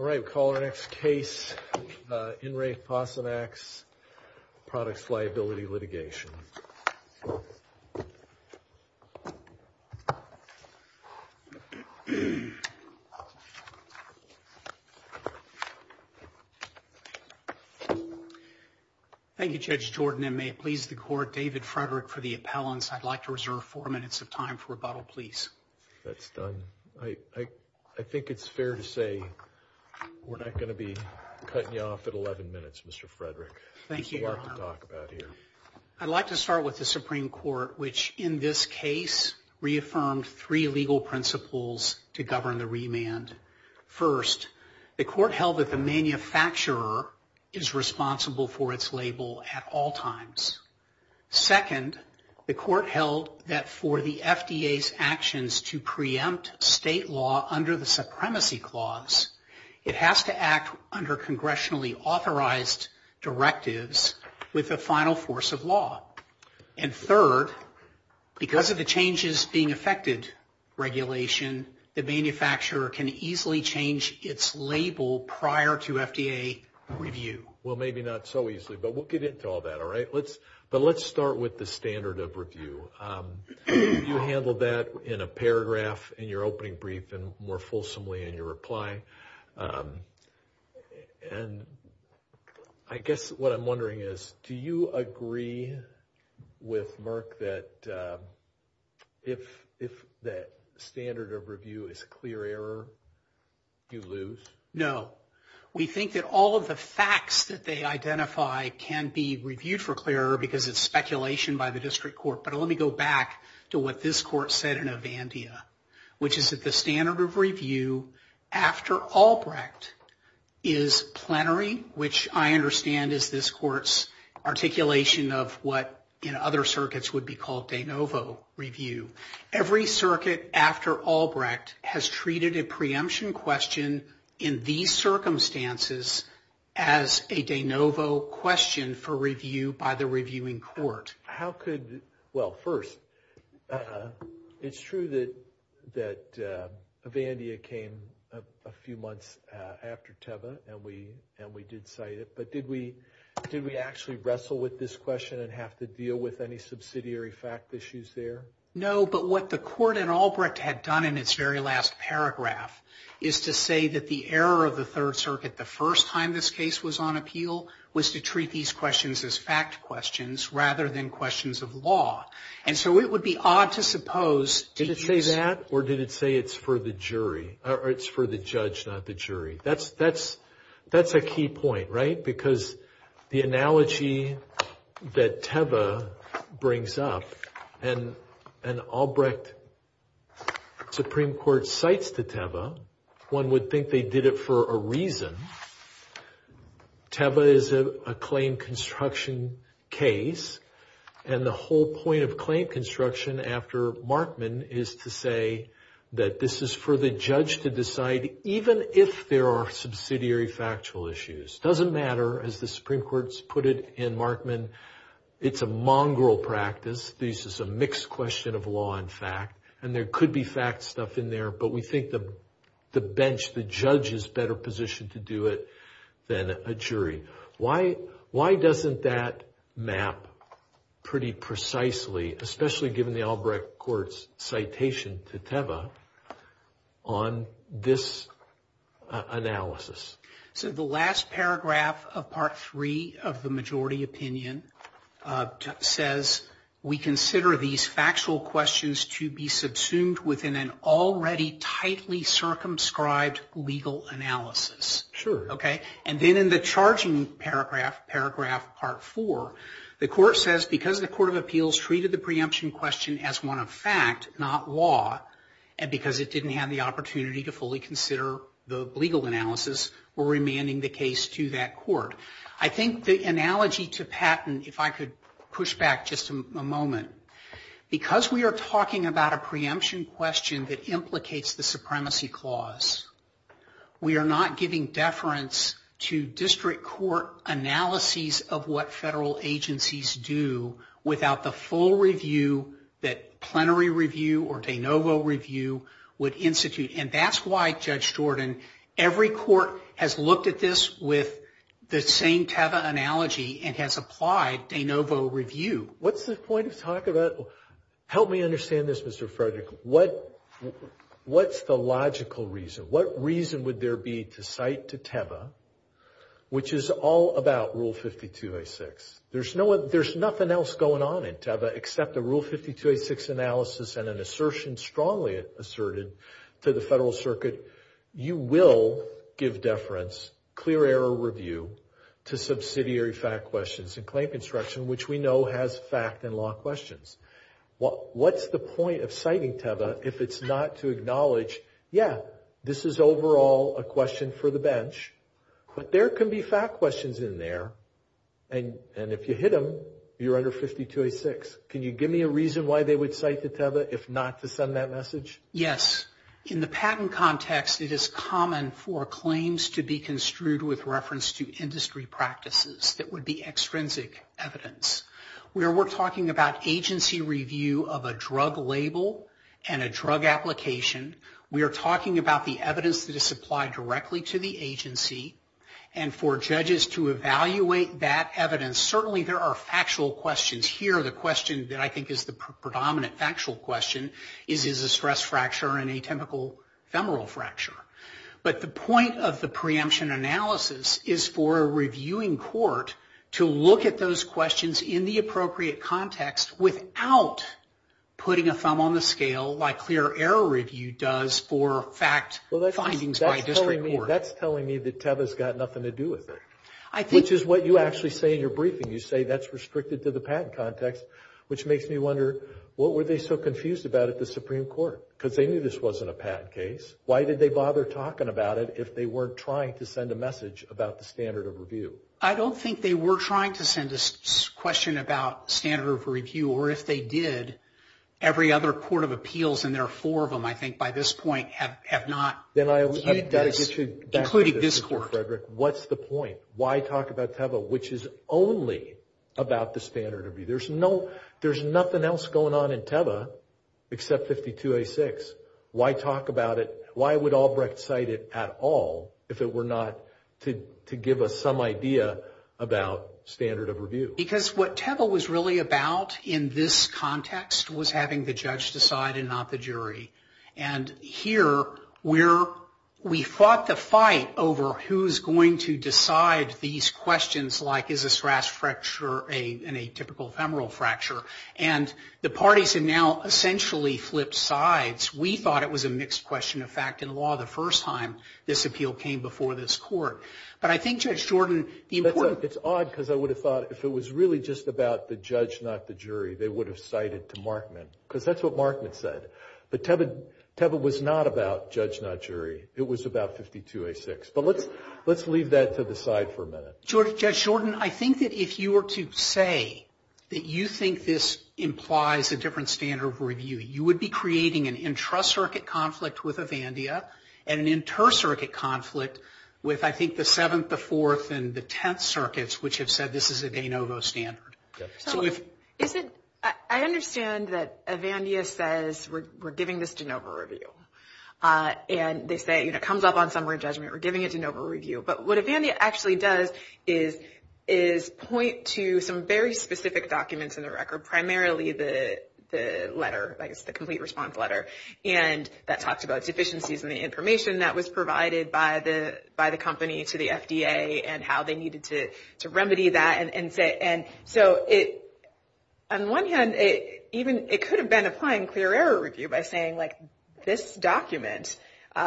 Alright, we'll call our next case, InreFosamax Products Liability Litigation. Thank you Judge Jordan, and may it please the Court, David Frederick for the appellant. I'd like to reserve four minutes of time for rebuttal, please. That's done. I think it's fair to say we're not going to be cutting you off at 11 minutes, Mr. Frederick. Thank you, Your Honor. There's a lot to talk about here. I'd like to start with the Supreme Court, which in this case reaffirmed three legal principles to govern a remand. First, the Court held that the manufacturer is responsible for its label at all times. Second, the Court held that for the FDA's actions to preempt state law under the Supremacy Clause, it has to act under congressionally authorized directives with the final force of law. And third, because of the changes being affected regulation, the manufacturer can easily change its label prior to FDA review. Well, maybe not so easily, but we'll get into all that, all right? But let's start with the standard of review. You handled that in a paragraph in your opening brief and more fulsomely in your reply. And I guess what I'm wondering is, do you agree with Merck that if that standard of review is a clear error, you lose? No. We think that all of the facts that they identify can be reviewed for clear error because it's speculation by the District Court. But let me go back to what this Court said in Avandia, which is that the standard of review after Albrecht is plenary, which I understand is this Court's articulation of what in other circuits would be called de novo review. Every circuit after Albrecht has treated a preemption question in these circumstances as a de novo question for review by the reviewing court. How could – well, first, it's true that Avandia came a few months after Teva and we did cite it, but did we actually wrestle with this question and have to deal with any subsidiary fact issues there? No, but what the Court in Albrecht had done in its very last paragraph is to say that the error of the Third Circuit the first time this case was on appeal was to treat these questions as fact questions rather than questions of law. And so it would be odd to suppose – Did it say that or did it say it's for the jury – or it's for the judge, not the jury? That's a key point, right? Because the analogy that Teva brings up and Albrecht Supreme Court cites to Teva, one would think they did it for a reason. Teva is a claim construction case and the whole point of claim construction after Markman is to say that this is for the judge to decide, even if there are subsidiary factual issues. It doesn't matter, as the Supreme Court's put it in Markman, it's a mongrel practice. This is a mixed question of law and fact and there could be fact stuff in there, but we think the bench, the judge, is better positioned to do it than a jury. Why doesn't that map pretty precisely, especially given the Albrecht Court's citation to Teva on this analysis? So the last paragraph of Part 3 of the majority opinion says, we consider these factual questions to be subsumed within an already tightly circumscribed legal analysis. And then in the charging paragraph, Paragraph Part 4, the court says, because the Court of Appeals treated the preemption question as one of fact, not law, and because it didn't have the opportunity to fully consider the legal analysis, we're remanding the case to that court. I think the analogy to Patton, if I could push back just a moment, because we are talking about a preemption question that implicates the supremacy clause, we are not giving deference to district court analyses of what federal agencies do without the full review that plenary review or de novo review would institute. And that's why, Judge Jordan, every court has looked at this with the same Teva analogy and has applied de novo review. What's the point of talking about? Help me understand this, Mr. Frederick. What's the logical reason? What reason would there be to cite to Teva, which is all about Rule 5286? There's nothing else going on in Teva except the Rule 5286 analysis and an assertion strongly asserted to the federal circuit, you will give deference, clear error review, to subsidiary fact questions and claim construction, which we know has fact and law questions. What's the point of citing Teva if it's not to acknowledge, yeah, this is overall a question for the bench, but there can be fact questions in there, and if you hit them, you're under 5286. Can you give me a reason why they would cite to Teva if not to send that message? Yes. In the Patton context, it is common for claims to be construed with reference to industry practices that would be extrinsic evidence. We're talking about agency review of a drug label and a drug application. We are talking about the evidence that is supplied directly to the agency, and for judges to evaluate that evidence, certainly there are factual questions here. The question that I think is the predominant factual question is, is a stress fracture an atypical femoral fracture? But the point of the preemption analysis is for a reviewing court to look at those questions, in the appropriate context, without putting a thumb on the scale, like clear error review does for fact findings by a district court. That's telling me that Teva's got nothing to do with it, which is what you actually say in your briefing. You say that's restricted to the Patton context, which makes me wonder, what were they so confused about at the Supreme Court? Because they knew this wasn't a Patton case. Why did they bother talking about it if they weren't trying to send a message about the standard of review? I don't think they were trying to send a question about standard of review, or if they did, every other court of appeals, and there are four of them I think by this point, have not included this court. What's the point? Why talk about Teva, which is only about the standard of review? There's nothing else going on in Teva except 52A6. Why talk about it? Why would Albrecht cite it at all if it were not to give us some idea about standard of review? Because what Teva was really about in this context was having the judge decide and not the jury, and here we fought the fight over who's going to decide these questions, like is a stress fracture an atypical femoral fracture, and the parties have now essentially flipped sides. We thought it was a mixed question of fact in law the first time this appeal came before this court. But I think, Judge Jordan, the important... It's odd because I would have thought if it was really just about the judge not the jury, they would have cited to Markman, because that's what Markman said. But Teva was not about judge not jury. It was about 52A6. But let's leave that to the side for a minute. Judge Jordan, I think that if you were to say that you think this implies a different standard of review, you would be creating an intra-circuit conflict with Avandia and an inter-circuit conflict with, I think, the 7th, the 4th, and the 10th circuits, which have said this is a de novo standard. I understand that Avandia says we're giving this de novo review. And they say it comes up on summary judgment, we're giving a de novo review. But what Avandia actually does is point to some very specific documents in the record, primarily the letter, the complete response letter, and that talks about deficiencies in the information that was provided by the company to the FDA and how they needed to remedy that. So on one hand, it could have been applying clear error review by saying this document,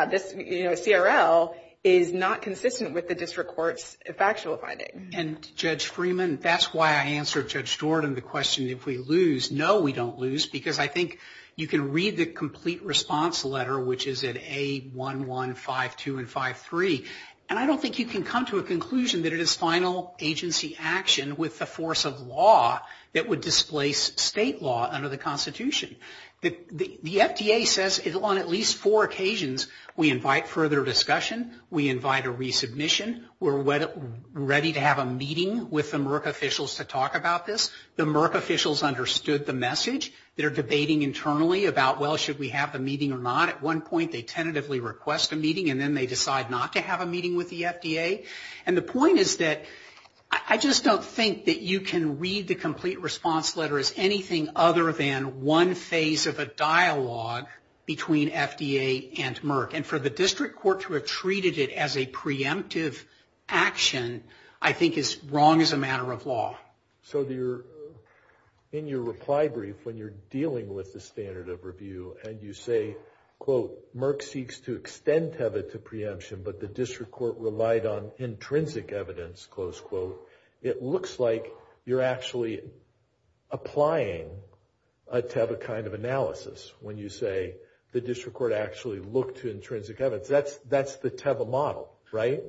this CRL, is not consistent with the district court's factual findings. And, Judge Freeman, that's why I answered Judge Jordan the question if we lose. No, we don't lose, because I think you can read the complete response letter, which is at A1, 1, 5, 2, and 5, 3. And I don't think you can come to a conclusion that it is final agency action with the force of law that would displace state law under the Constitution. The FDA says on at least four occasions we invite further discussion, we invite a resubmission, we're ready to have a meeting with the Merck officials to talk about this. The Merck officials understood the message. They're debating internally about, well, should we have the meeting or not? At one point, they tentatively request a meeting, and then they decide not to have a meeting with the FDA. And the point is that I just don't think that you can read the complete response letter as anything other than one phase of a dialogue between FDA and Merck. And for the district court to have treated it as a preemptive action I think is wrong as a matter of law. So in your reply brief when you're dealing with the standard of review and you say, quote, Merck seeks to extend TEVA to preemption, but the district court relied on intrinsic evidence, close quote, it looks like you're actually applying a TEVA kind of analysis when you say the district court actually looked to intrinsic evidence. That's the TEVA model, right?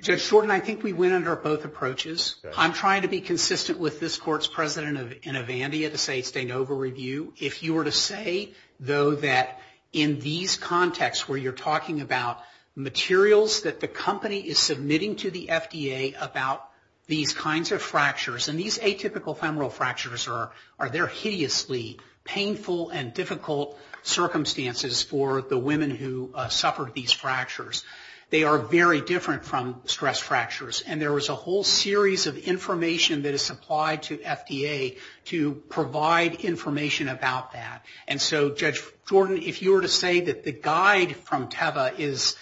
Judge Fortin, I think we went under both approaches. I'm trying to be consistent with this court's president in Avandia to say it's de novo review. If you were to say, though, that in these contexts where you're talking about materials that the company is submitting to the FDA about these kinds of fractures, and these atypical femoral fractures are their hideously painful and difficult circumstances for the women who suffered these fractures, they are very different from stress fractures. And there is a whole series of information that is supplied to FDA to provide information about that. And so, Judge Fortin, if you were to say that the guide from TEVA is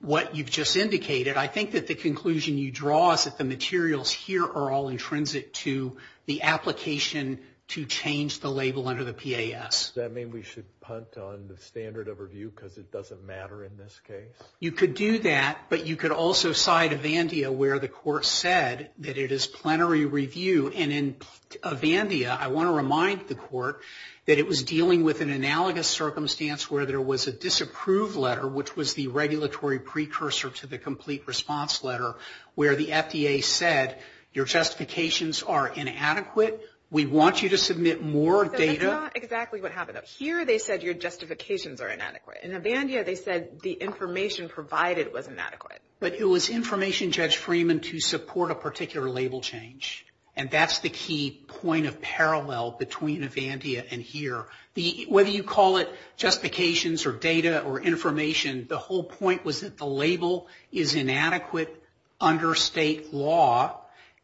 what you've just indicated, I think that the conclusion you draw is that the materials here are all intrinsic to the application to change the label under the PAS. Does that mean we should punt on the standard of review because it doesn't matter in this case? You could do that, but you could also side Avandia where the court said that it is plenary review. And in Avandia, I want to remind the court that it was dealing with an analogous circumstance where there was a approved letter, which was the regulatory precursor to the complete response letter, where the FDA said, your justifications are inadequate. We want you to submit more data. But that's not exactly what happened up here. They said your justifications are inadequate. In Avandia, they said the information provided was inadequate. But it was information, Judge Freeman, to support a particular label change. And that's the key point of parallel between Avandia and here. Whether you call it justifications or data or information, the whole point was that the label is inadequate under state law,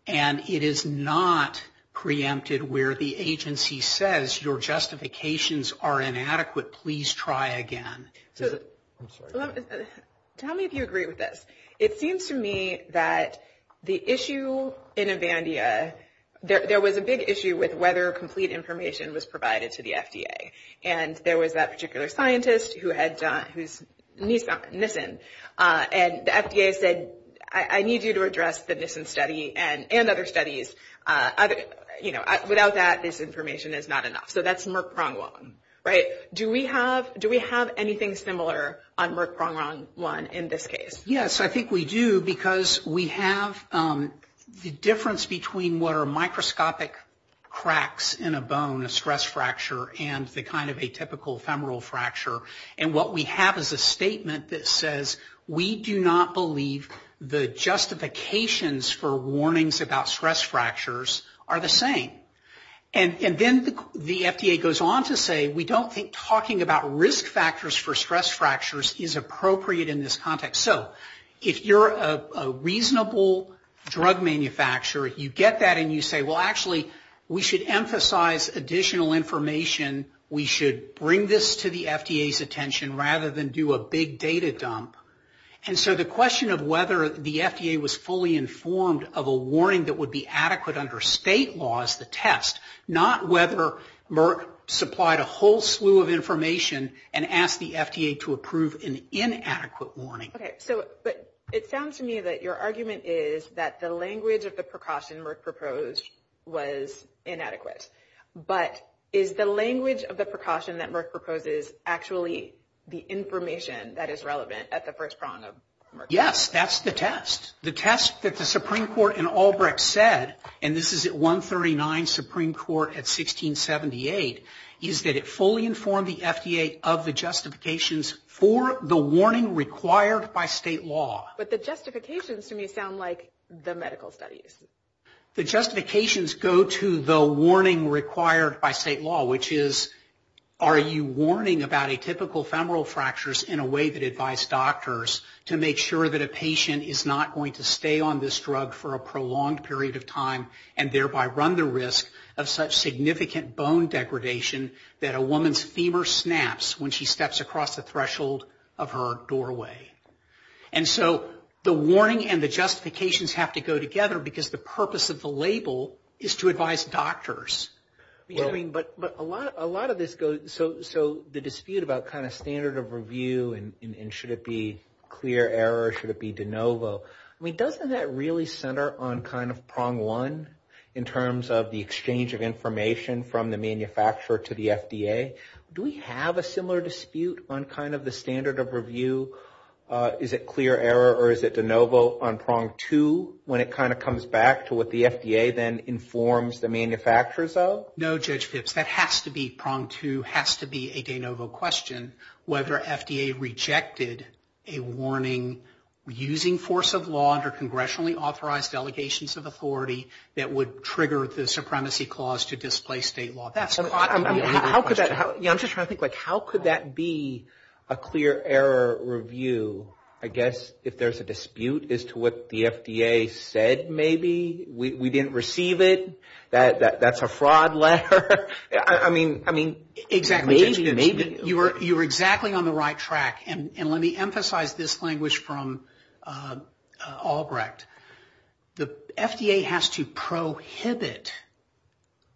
and it is not preempted where the agency says, your justifications are inadequate. Please try again. Tell me if you agree with this. It seems to me that the issue in Avandia, there was a big issue with whether complete information was available to the FDA. And there was that particular scientist who had done, who's Nissan, and the FDA said, I need you to address the Nissan study and other studies. Without that, this information is not enough. So that's Merck-Pronghorn, right? Do we have anything similar on Merck-Pronghorn 1 in this case? Yes, I think we do, because we have the difference between what are microscopic cracks in a bone, a stress fracture, and the kind of atypical femoral fracture. And what we have is a statement that says, we do not believe the justifications for warnings about stress fractures are the same. And then the FDA goes on to say, we don't think talking about risk factors for stress fractures is appropriate in this context. So if you're a reasonable drug manufacturer, you get that and you say, well, actually, we should emphasize additional information. We should bring this to the FDA's attention rather than do a big data dump. And so the question of whether the FDA was fully informed of a warning that would be adequate under state laws to test, not whether Merck supplied a whole slew of information and asked the FDA to approve an inadequate warning. Okay, so it sounds to me that your argument is that the language of the precaution Merck proposed was inadequate. But is the language of the precaution that Merck proposes actually the information that is relevant at the first prong of Merck? Yes, that's the test. The test that the Supreme Court in Albrecht said, and this is at 139 Supreme Court at 1678, is that it fully informed the FDA of the justifications for the warning required by state law. But the justifications to me sound like the medical studies. The justifications go to the warning required by state law, which is, are you warning about atypical femoral fractures in a way that advises doctors to make sure that a patient is not going to stay on this drug for a prolonged period of time and thereby run the risk of such significant bone degradation that a woman's femur snaps when she steps across the threshold of her doorway. And so the warning and the justifications have to go together because the purpose of the label is to advise doctors. But a lot of this goes, so the dispute about kind of standard of review and should it be clear error, should it be de novo, I mean doesn't that really center on kind of prong one in terms of the exchange of information from the manufacturer to the FDA? Do we have a similar dispute on kind of the standard of review? Is it clear error or is it de novo on prong two when it kind of comes back to what the FDA then informs the manufacturers of? No, Judge Phipps, that has to be prong two, has to be a de novo question, whether FDA rejected a warning using force of law under congressionally authorized delegations of authority that would trigger the supremacy clause to display state law. I'm just trying to think, how could that be a clear error review? I guess if there's a dispute as to what the FDA said maybe, we didn't receive it, that's a fraud letter. I mean, maybe. You're exactly on the right track and let me emphasize this language from Albrecht. The FDA has to prohibit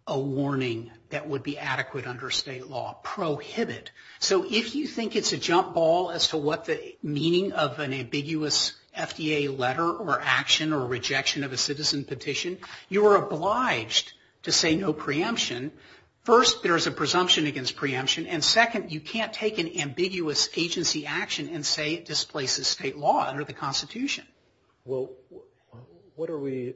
a warning that would be adequate under state law, prohibit. So if you think it's a jump ball as to what the meaning of an ambiguous FDA letter or action or rejection of a citizen petition, you are obliged to say no preemption. First, there is a presumption against preemption and second, you can't take an ambiguous agency action and say it displaces state law under the Constitution. Well, what are we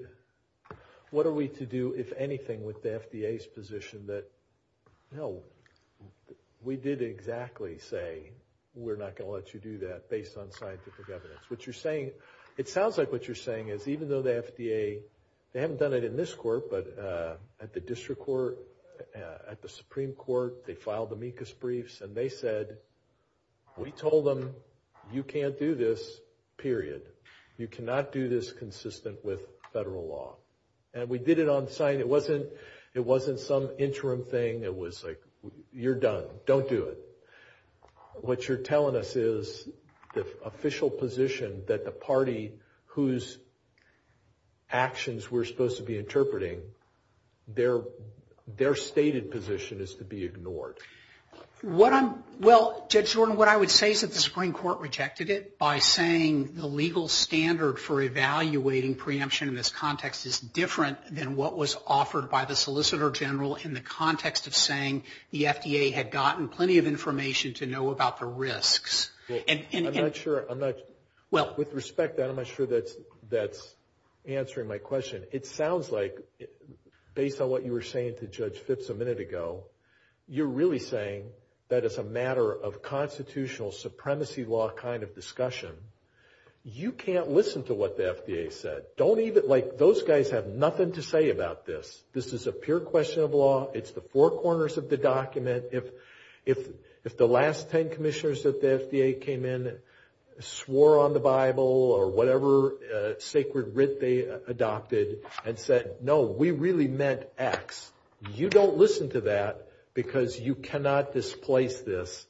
to do, if anything, with the FDA's position that, no, we did exactly say we're not going to let you do that based on scientific evidence. What you're saying, it sounds like what you're saying is even though the FDA, they haven't done it in this court, but at the district court, at the Supreme Court, they filed amicus briefs and they said, we told them you can't do this, period. You cannot do this consistent with federal law. And we did it on site. It wasn't some interim thing. It was like, you're done. Don't do it. What you're telling us is the official position that the party whose actions we're supposed to be interpreting, their stated position is to be ignored. Well, Judge Jordan, what I would say is that the Supreme Court rejected it by saying the legal standard for evaluating preemption in this context is different than what was offered by the Solicitor General in the context of saying the FDA had gotten plenty of information to know about the risks. I'm not sure. With respect to that, I'm not sure that's answering my question. It sounds like based on what you were saying to Judge Fitz a minute ago, you're really saying that it's a matter of constitutional supremacy law kind of discussion. You can't listen to what the FDA said. Those guys have nothing to say about this. This is a pure question of law. It's the four corners of the document. If the last ten commissioners that the FDA came in swore on the Bible or whatever sacred writ they adopted and said, no, we really meant X, you don't listen to that because you cannot displace this.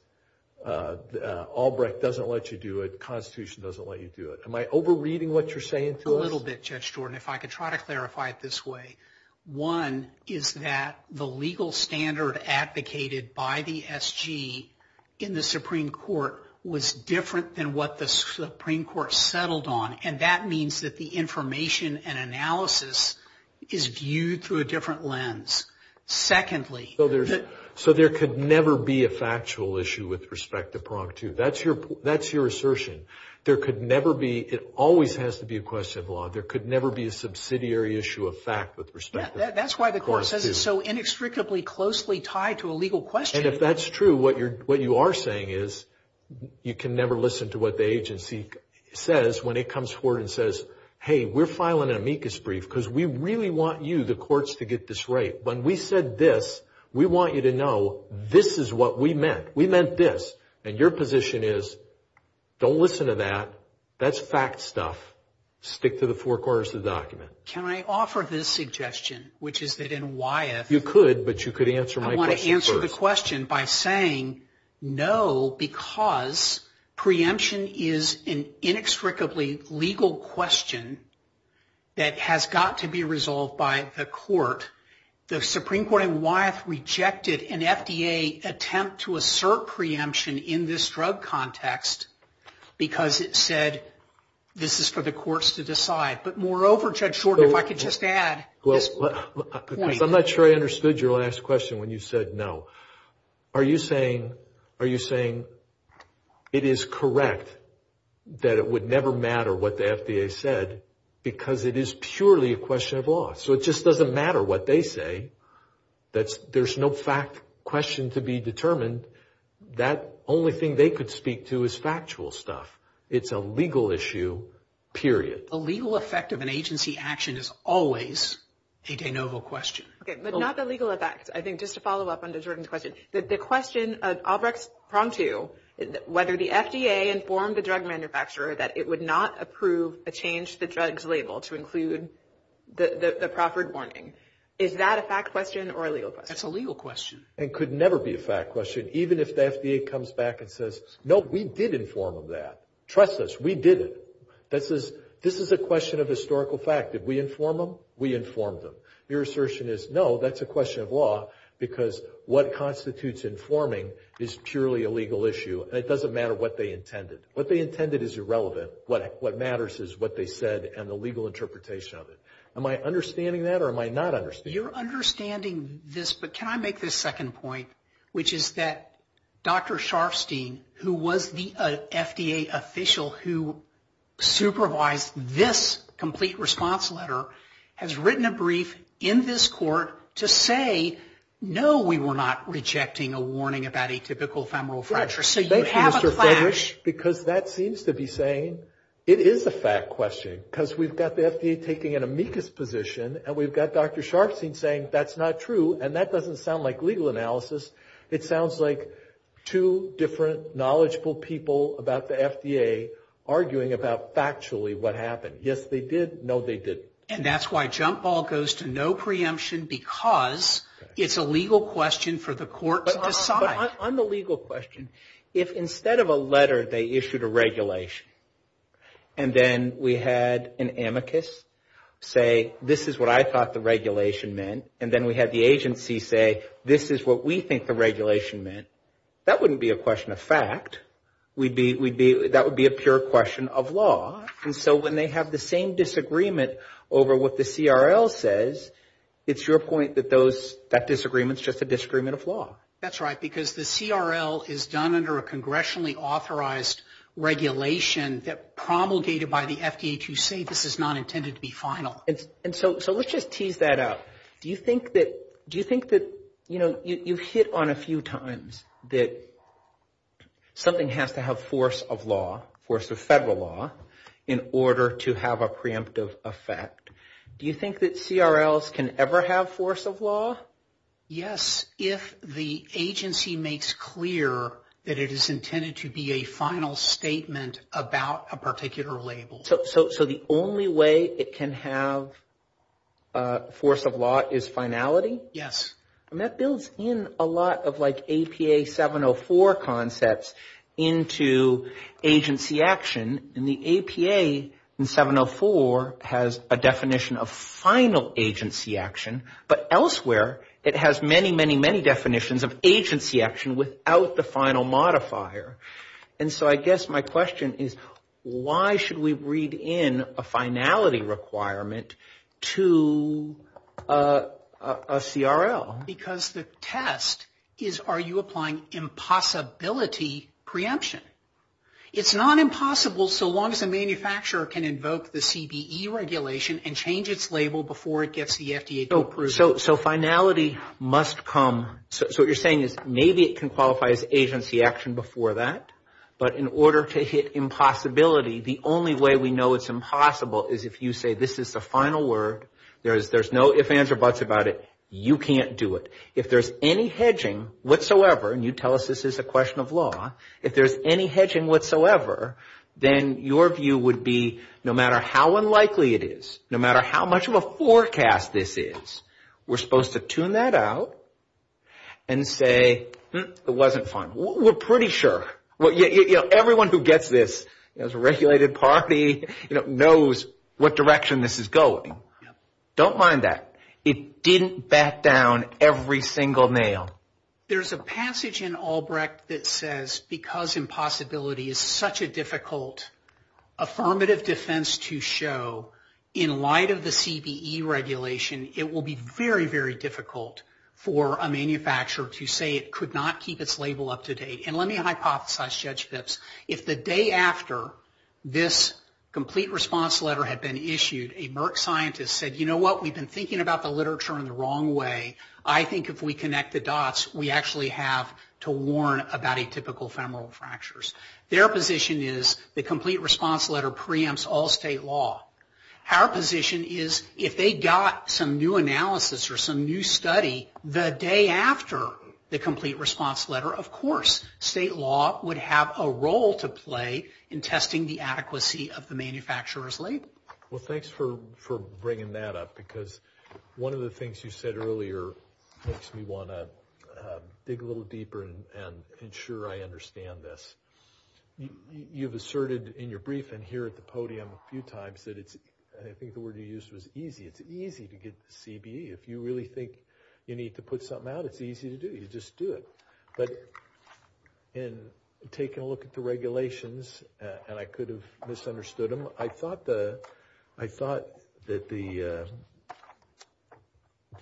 Albrecht doesn't let you do it. The Constitution doesn't let you do it. Am I over-reading what you're saying to us? A little bit, Judge Jordan, if I could try to clarify it this way. One is that the legal standard advocated by the SG in the Supreme Court was different than what the Supreme Court settled on, and that means that the information and analysis is viewed through a different lens. Secondly, So there could never be a factual issue with respect to prong two. That's your assertion. There could never be. It always has to be a question of law. There could never be a subsidiary issue of fact with respect to prong two. That's why the court says it's so inextricably closely tied to a legal question. And if that's true, what you are saying is you can never listen to what the agency says when it comes forward and says, hey, we're filing an amicus brief because we really want you, the courts, to get this right. When we said this, we want you to know this is what we meant. We meant this. And your position is don't listen to that. That's fact stuff. Stick to the four quarters of the document. Can I offer this suggestion, which is that in Wyeth. You could, but you could answer my question first. I want to answer the question by saying no, because preemption is an inextricably legal question that has got to be resolved by the court. The Supreme Court in Wyeth rejected an FDA attempt to assert preemption in this drug context because it said this is for the courts to decide. But moreover, Ted Shorten, if I could just add. I'm not sure I understood your last question when you said no. Are you saying it is correct that it would never matter what the FDA said because it is purely a question of law? So it just doesn't matter what they say. There's no fact question to be determined. That only thing they could speak to is factual stuff. It's a legal issue, period. The legal effect of an agency action is always a de novo question. Okay, but not the legal effect. I think just to follow up on the Jordan's question. The question of Obrecht-Prompto, whether the FDA informed the drug manufacturer that it would not approve a change to the drug's label to include the proffered warning. Is that a fact question or a legal question? That's a legal question. It could never be a fact question, even if the FDA comes back and says, no, we did inform them of that. Trust us, we did it. This is a question of historical fact. Did we inform them? We informed them. Your assertion is no, that's a question of law because what constitutes informing is purely a legal issue. It doesn't matter what they intended. What they intended is irrelevant. What matters is what they said and the legal interpretation of it. Am I understanding that or am I not understanding? You're understanding this, but can I make this second point, which is that Dr. Sharfstein, who was the FDA official who supervised this complete response letter, has written a brief in this court to say, no, we were not rejecting a warning about atypical femoral fracture. So you have a fact. Because that seems to be saying it is a fact question because we've got the FDA taking an amicus position and we've got Dr. Sharfstein saying that's not true, and that doesn't sound like legal analysis. It sounds like two different knowledgeable people about the FDA arguing about factually what happened. Yes, they did. No, they didn't. And that's why jump ball goes to no preemption because it's a legal question for the court to decide. But on the legal question, if instead of a letter they issued a regulation and then we had an amicus say this is what I thought the regulation meant, and then we had the agency say this is what we think the regulation meant, that wouldn't be a question of fact. That would be a pure question of law. And so when they have the same disagreement over what the CRL says, it's your point that that disagreement is just a disagreement of law. That's right, because the CRL is done under a congressionally authorized regulation that promulgated by the FDA to say this is not intended to be final. And so let's just tease that out. Do you think that you've hit on a few times that something has to have force of law, force of federal law, in order to have a preemptive effect? Do you think that CRLs can ever have force of law? Yes, if the agency makes clear that it is intended to be a final statement about a particular label. So the only way it can have force of law is finality? Yes. And that builds in a lot of like APA 704 concepts into agency action. And the APA in 704 has a definition of final agency action, but elsewhere it has many, many, many definitions of agency action without the final modifier. And so I guess my question is why should we read in a finality requirement to a CRL? Because the test is are you applying impossibility preemption? It's not impossible so long as the manufacturer can invoke the CBE regulation and change its label before it gets the FDA approval. So finality must come, so what you're saying is maybe it can qualify as agency action before that, but in order to hit impossibility, the only way we know it's impossible is if you say this is the final word, there's no ifs, ands, or buts about it, you can't do it. If there's any hedging whatsoever, and you tell us this is a question of law, if there's any hedging whatsoever, then your view would be no matter how unlikely it is, no matter how much of a forecast this is, we're supposed to tune that out and say it wasn't fine. We're pretty sure. Everyone who gets this as a regulated party knows what direction this is going. Don't mind that. It didn't bat down every single nail. There's a passage in Albrecht that says because impossibility is such a difficult affirmative defense to show, in light of the CBE regulation, it will be very, very difficult for a manufacturer to say it could not keep its label up to date. And let me hypothesize, Judge Phipps. If the day after this complete response letter had been issued, a Merck scientist said, you know what, we've been thinking about the literature in the wrong way. I think if we connect the dots, we actually have to warn about atypical femoral fractures. Their position is the complete response letter preempts all state law. Our position is if they got some new analysis or some new study the day after the complete response letter, of course state law would have a role to play in testing the adequacy of the manufacturer's label. Well, thanks for bringing that up, because one of the things you said earlier makes me want to dig a little deeper and ensure I understand this. You've asserted in your briefing here at the podium a few times that it's, and I think the word you used was easy, it's easy to get the CBE. If you really think you need to put something out, it's easy to do. You just do it. But in taking a look at the regulations, and I could have misunderstood them, but I thought that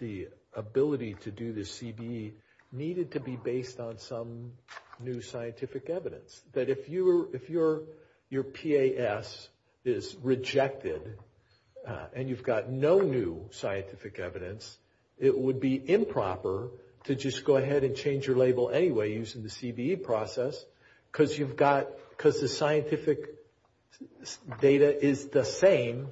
the ability to do the CBE needed to be based on some new scientific evidence. That if your PAS is rejected and you've got no new scientific evidence, it would be improper to just go ahead and change your label anyway using the CBE process, because the scientific data is the same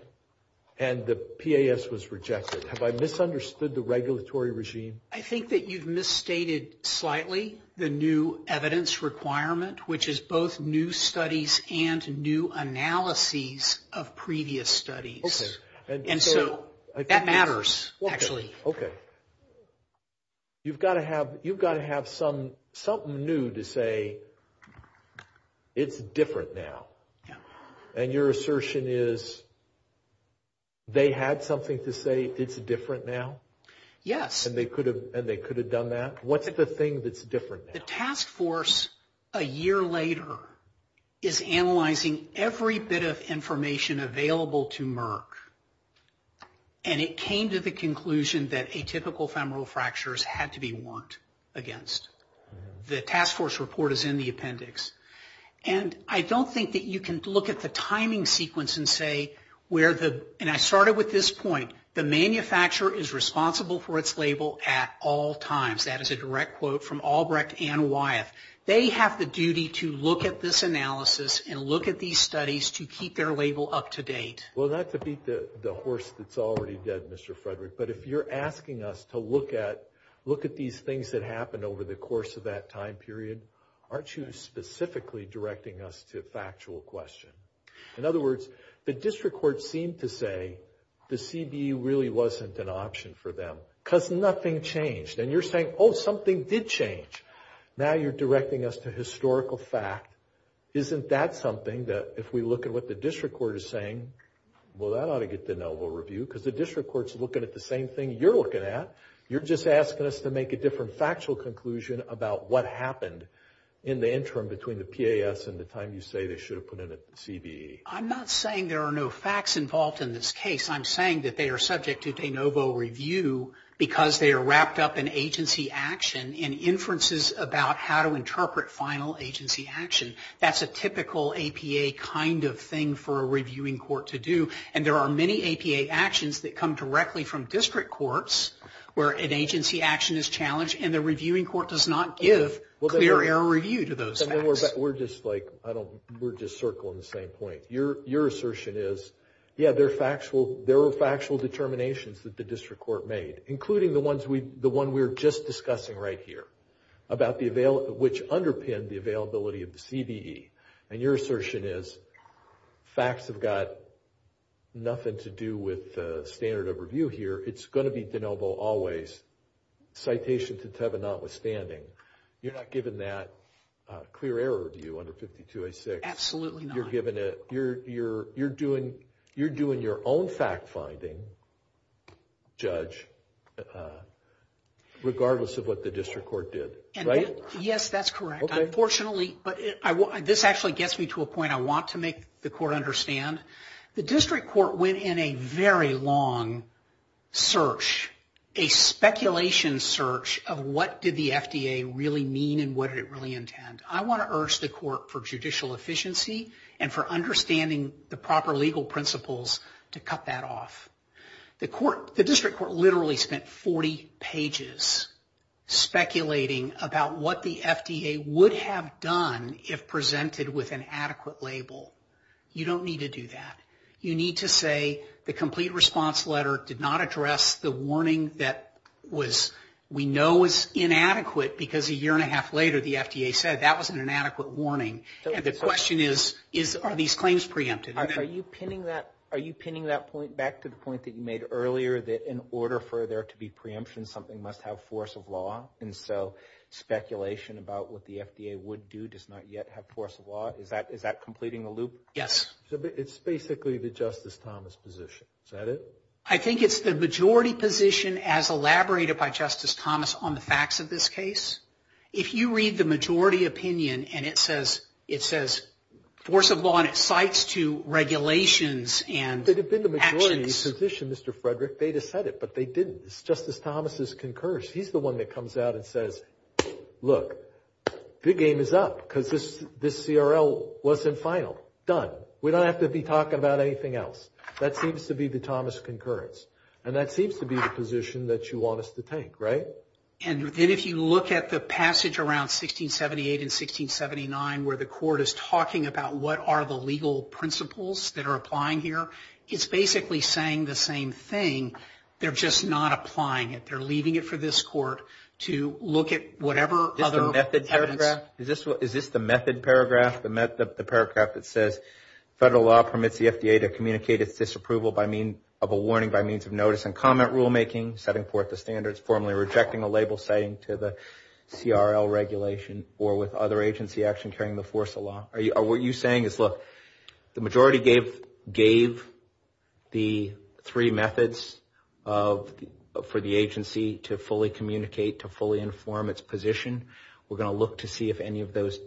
and the PAS was rejected. Have I misunderstood the regulatory regime? I think that you've misstated slightly the new evidence requirement, which is both new studies and new analyses of previous studies. Okay. And so that matters, actually. Okay. Okay. You've got to have something new to say it's different now. And your assertion is they had something to say it's different now? Yes. And they could have done that? What's the thing that's different now? The task force a year later is analyzing every bit of information available to Merck, and it came to the conclusion that atypical femoral fractures had to be worked against. The task force report is in the appendix. And I don't think that you can look at the timing sequence and say, and I started with this point, the manufacturer is responsible for its label at all times. That is a direct quote from Albrecht and Wyeth. They have the duty to look at this analysis and look at these studies to keep their label up to date. Well, not to beat the horse that's already dead, Mr. Frederick, but if you're asking us to look at these things that happened over the course of that time period, aren't you specifically directing us to a factual question? In other words, the district court seemed to say the CD really wasn't an option for them because nothing changed. And you're saying, oh, something did change. Now you're directing us to historical fact. Isn't that something that if we look at what the district court is saying, well, that ought to get de novo review, because the district court is looking at the same thing you're looking at. You're just asking us to make a different factual conclusion about what happened in the interim between the PAS and the time you say they should have put in the CD. I'm not saying there are no facts involved in this case. I'm saying that they are subject to de novo review because they are wrapped up in agency action and inferences about how to interpret final agency action. That's a typical APA kind of thing for a reviewing court to do, and there are many APA actions that come directly from district courts where an agency action is challenged, and the reviewing court does not give clear error review to those facts. We're just circling the same point. Your assertion is, yeah, there were factual determinations that the district court made, including the one we were just discussing right here, which underpinned the availability of the CDE, and your assertion is facts have got nothing to do with standard of review here. It's going to be de novo always, citations to Teva notwithstanding. You're not giving that clear error review under 5286. Absolutely not. You're doing your own fact-finding, judge, regardless of what the district court did, right? Yes, that's correct. Unfortunately, this actually gets me to a point I want to make the court understand. The district court went in a very long search, a speculation search of what did the FDA really mean and what did it really intend. I want to urge the court for judicial efficiency and for understanding the proper legal principles to cut that off. The district court literally spent 40 pages speculating about what the FDA would have done if presented with an adequate label. You don't need to do that. You need to say the complete response letter did not address the warning that we know is inadequate because a year and a half later the FDA said that was an inadequate warning. The question is, are these claims preempted? Are you pinning that point back to the point that you made earlier that in order for there to be preemption, something must have force of law? Speculation about what the FDA would do does not yet have force of law. Is that completing the loop? Yes. It's basically the Justice Thomas position. Is that it? I think it's the majority position as elaborated by Justice Thomas on the facts of this case. If you read the majority opinion and it says force of law and it cites two regulations and actions. If it had been the majority position, Mr. Frederick, they'd have said it, but they didn't. It's Justice Thomas's concurrence. He's the one that comes out and says, look, the game is up because this CRL wasn't final. Done. We don't have to be talking about anything else. That seems to be the Thomas concurrence. And that seems to be the position that you want us to take, right? And if you look at the passage around 1678 and 1679 where the court is talking about what are the legal principles that are applying here, it's basically saying the same thing. They're just not applying it. They're leaving it for this court to look at whatever other – Is this the method paragraph? Federal law permits the FDA to communicate its disapproval of a warning by means of notice and comment rulemaking, setting forth the standards, formally rejecting a label saying to the CRL regulation or with other agency action carrying the force of law. What you're saying is, look, the majority gave the three methods for the agency to fully communicate, to fully inform its position. We're going to look to see if any of those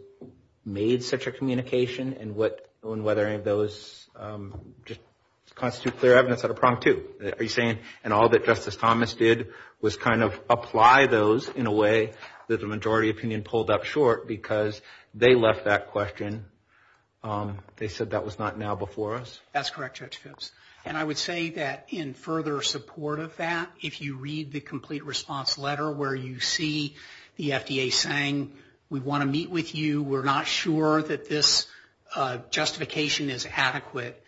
made such a communication and whether any of those just constitute clear evidence of the problem, too. Are you saying, and all that Justice Thomas did was kind of apply those in a way that the majority opinion pulled up short because they left that question. They said that was not now before us? That's correct, Judge Fitts. And I would say that in further support of that, if you read the complete response letter where you see the FDA saying we want to meet with you, we're not sure that this justification is adequate,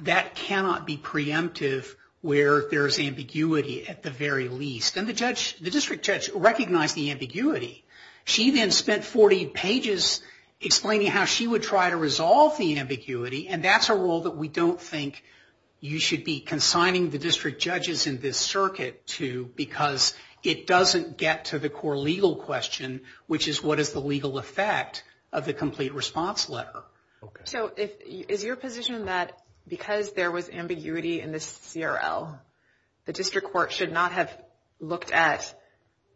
that cannot be preemptive where there's ambiguity at the very least. And the district judge recognized the ambiguity. She then spent 40 pages explaining how she would try to resolve the ambiguity, and that's a rule that we don't think you should be consigning the district judges in this circuit to because it doesn't get to the core legal question, which is what is the legal effect of the complete response letter. So is your position that because there was ambiguity in this CRL, the district court should not have looked at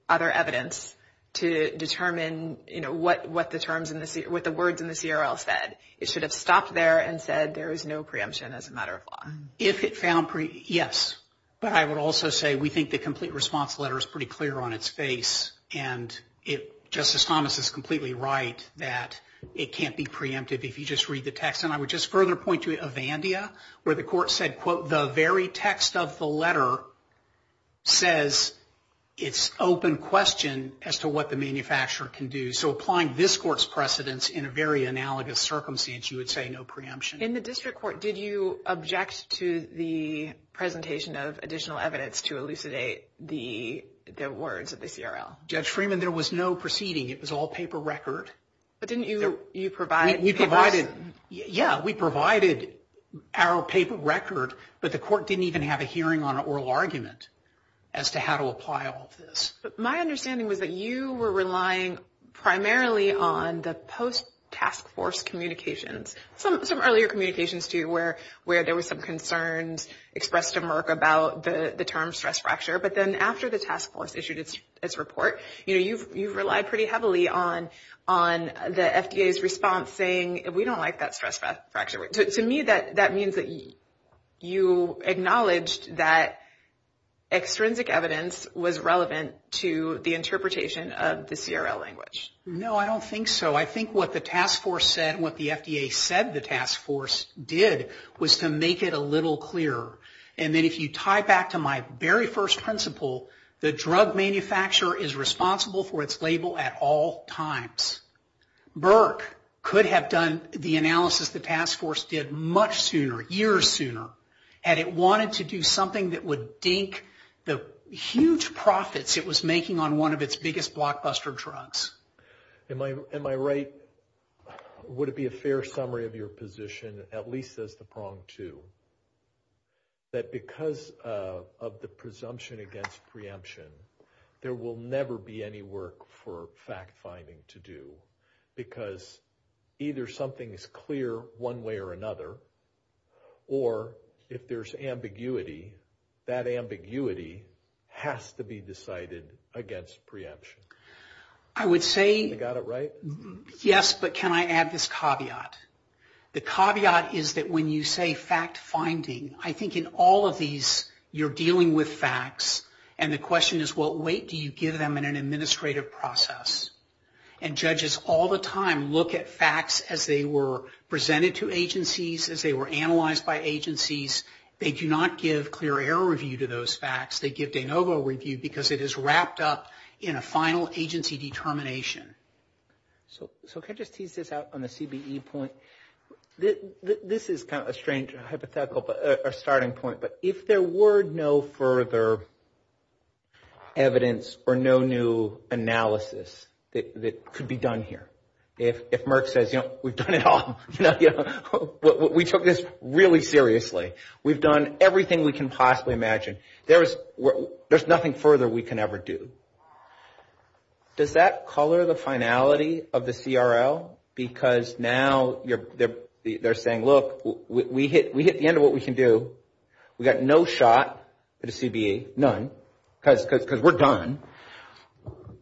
other evidence to determine, you know, what the words in the CRL said? It should have stopped there and said there is no preemption as a matter of law. Yes, but I would also say we think the complete response letter is pretty clear on its face, and Justice Thomas is completely right that it can't be preemptive if you just read the text. And I would just further point to Avandia where the court said, quote, the very text of the letter says it's open question as to what the manufacturer can do. So applying this court's precedence in a very analogous circumstance, you would say no preemption. In the district court, did you object to the presentation of additional evidence to elucidate the words of the CRL? Judge Freeman, there was no proceeding. It was all paper record. But didn't you provide it? Yeah, we provided our paper record, but the court didn't even have a hearing on an oral argument as to how to apply all this. My understanding was that you were relying primarily on the post-task force communications. Some earlier communications, too, where there were some concerns expressed to Merck about the term stress fracture, but then after the task force issued its report, you know, you relied pretty heavily on the FDA's response saying we don't like that stress fracture. To me, that means that you acknowledged that extrinsic evidence was relevant to the interpretation of the CRL language. No, I don't think so. I think what the task force said and what the FDA said the task force did was to make it a little clearer. And then if you tie back to my very first principle, the drug manufacturer is responsible for its label at all times. Merck could have done the analysis the task force did much sooner, years sooner, had it wanted to do something that would dink the huge profits it was making on one of its biggest blockbuster drugs. Am I right? Would it be a fair summary of your position, at least as the pronged to, that because of the presumption against preemption, there will never be any work for fact-finding to do, because either something is clear one way or another, or if there's ambiguity, that ambiguity has to be decided against preemption. I would say- You got it right? Yes, but can I add this caveat? The caveat is that when you say fact-finding, I think in all of these you're dealing with facts, and the question is what weight do you give them in an administrative process? And judges all the time look at facts as they were presented to agencies, as they were analyzed by agencies. They do not give clear error review to those facts. They give de novo review because it is wrapped up in a final agency determination. So can I just tease this out on the CBE point? This is kind of a strange hypothetical starting point, but if there were no further evidence or no new analysis that could be done here, if Merck says, you know, we've done it all. We took this really seriously. We've done everything we can possibly imagine. There's nothing further we can ever do. Does that color the finality of the CRL? Because now they're saying, look, we hit the end of what we can do. We got no shot at a CBE, none, because we're done.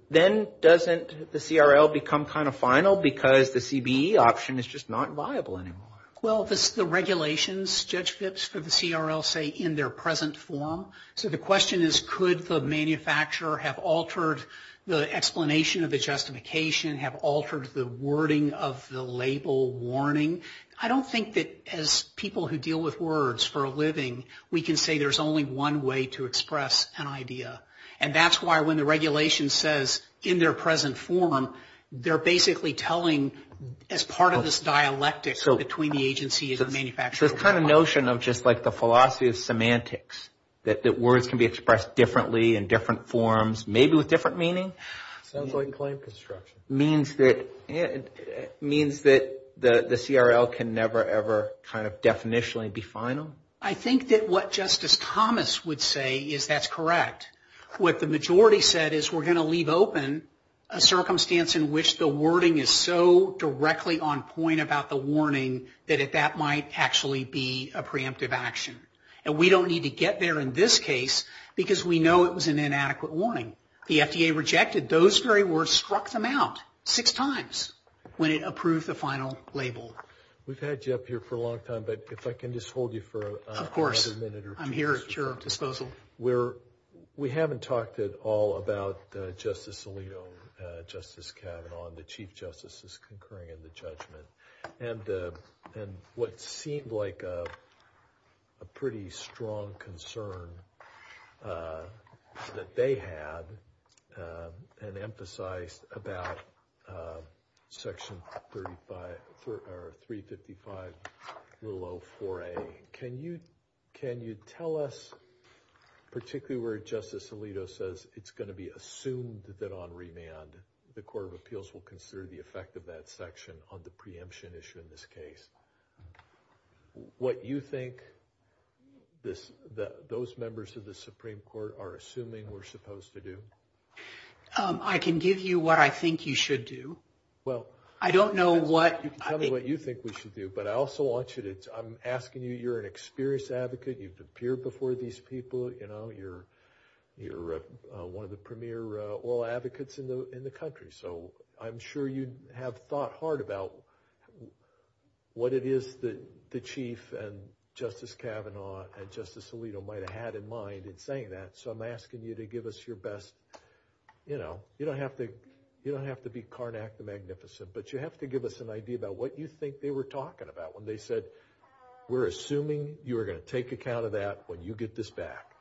Then doesn't the CRL become kind of final because the CBE option is just not viable anymore? Well, the regulations, Judge Phipps, for the CRL say in their present form. So the question is could the manufacturer have altered the explanation of the justification, have altered the wording of the label warning? I don't think that as people who deal with words for a living, we can say there's only one way to express an idea. And that's why when the regulation says in their present form, they're basically telling as part of this dialectic between the agency and the manufacturer. So it's kind of a notion of just like the philosophy of semantics, that words can be expressed differently in different forms, maybe with different meaning? It means that the CRL can never, ever kind of definitionally be final? I think that what Justice Thomas would say is that's correct. What the majority said is we're going to leave open a circumstance in which the wording is so directly on point about the warning that that might actually be a preemptive action. And we don't need to get there in this case because we know it was an inadequate warning. The FDA rejected those very words, struck them out six times when it approved the final label. We've had you up here for a long time, but if I can just hold you for a minute. Of course, I'm here at your disposal. We haven't talked at all about Justice Alito, Justice Kavanaugh, and the Chief Justices concurring in the judgment. And what seemed like a pretty strong concern that they had and emphasized about Section 355, Rule 04A. Can you tell us, particularly where Justice Alito says it's going to be assumed that on remand, the Court of Appeals will consider the effect of that section on the preemption issue in this case? What you think those members of the Supreme Court are assuming we're supposed to do? I can give you what I think you should do. I don't know what you think we should do, but I also want you to – I'm asking you, you're an experienced advocate. You've appeared before these people. You're one of the premier law advocates in the country. So I'm sure you have thought hard about what it is that the Chief and Justice Kavanaugh and Justice Alito might have had in mind in saying that. So I'm asking you to give us your best – you don't have to be carnac the magnificent, but you have to give us an idea about what you think they were talking about when they said, we're assuming you're going to take account of that when you get this back.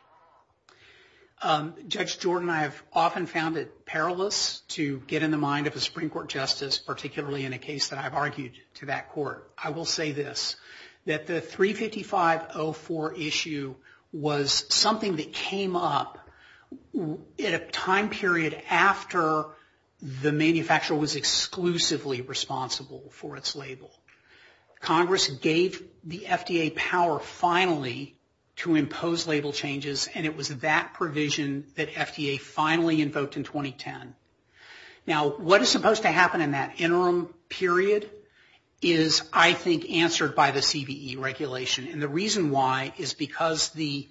Judge Jordan, I have often found it perilous to get in the mind of a Supreme Court justice, particularly in a case that I've argued to that court. I will say this, that the 35504 issue was something that came up in a time period after the manufacturer was exclusively responsible for its label. Congress gave the FDA power finally to impose label changes, and it was that provision that FDA finally invoked in 2010. Now, what is supposed to happen in that interim period is, I think, answered by the CVE regulation. And the reason why is because the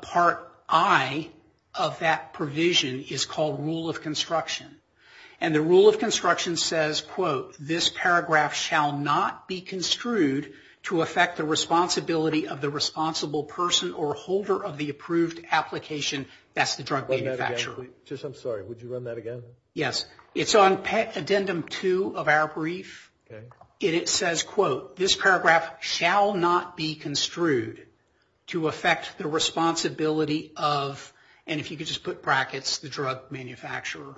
Part I of that provision is called Rule of Construction. And the Rule of Construction says, quote, this paragraph shall not be construed to affect the responsibility of the responsible person or holder of the approved application, that's the drug manufacturer. I'm sorry, would you run that again? Yes, it's on Addendum 2 of our brief. It says, quote, this paragraph shall not be construed to affect the responsibility of, and if you could just put brackets, the drug manufacturer,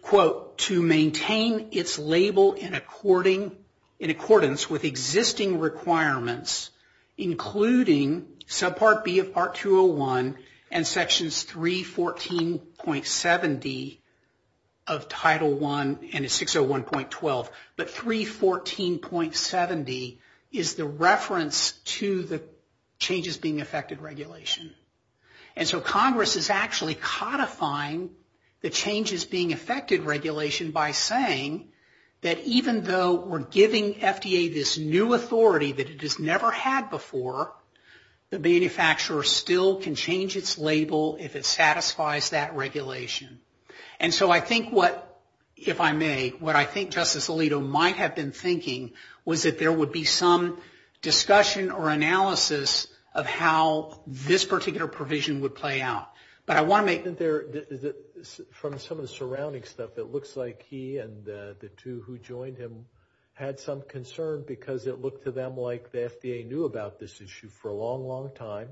quote, to maintain its label in accordance with existing requirements, including Subpart B of Part 201 and Sections 314.70 of Title I and 601.12. But 314.70 is the reference to the changes being affected regulation. And so Congress is actually codifying the changes being affected regulation by saying that even though we're giving FDA this new authority that it has never had before, the manufacturer still can change its label if it satisfies that regulation. And so I think what, if I may, what I think Justice Alito might have been thinking was that there would be some discussion or analysis of how this particular provision would play out. But I want to make that there, from some of the surrounding stuff, it looks like he and the two who joined him had some concern because it looked to them like the FDA knew about this issue for a long, long time,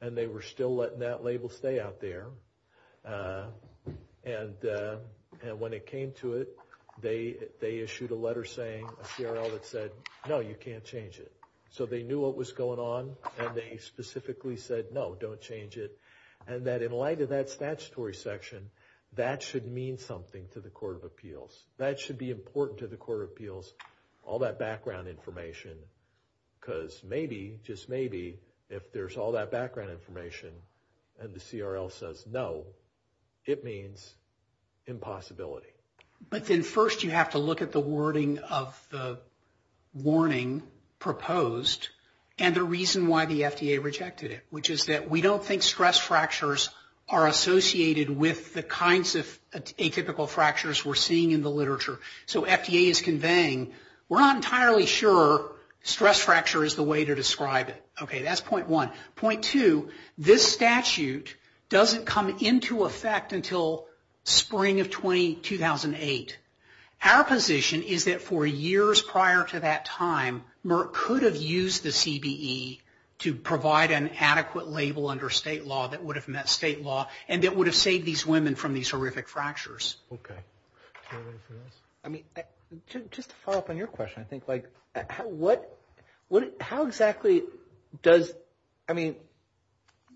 and they were still letting that label stay out there. And when it came to it, they issued a letter saying, a CRL that said, no, you can't change it. So they knew what was going on, and they specifically said, no, don't change it. And that in light of that statutory section, that should mean something to the Court of Appeals. That should be important to the Court of Appeals, all that background information, because maybe, just maybe, if there's all that background information and the CRL says no, it means impossibility. But then first you have to look at the wording of the warning proposed and the reason why the FDA rejected it, which is that we don't think stress fractures are associated with the kinds of atypical fractures we're seeing in the literature. So FDA is conveying, we're not entirely sure stress fracture is the way to describe it. Okay, that's point one. Point two, this statute doesn't come into effect until spring of 2008. Our position is that for years prior to that time, Merck could have used the CBE to provide an adequate label under state law that would have met state law and that would have saved these women from these horrific fractures. Okay. I mean, just to follow up on your question, I think, like, how exactly does, I mean,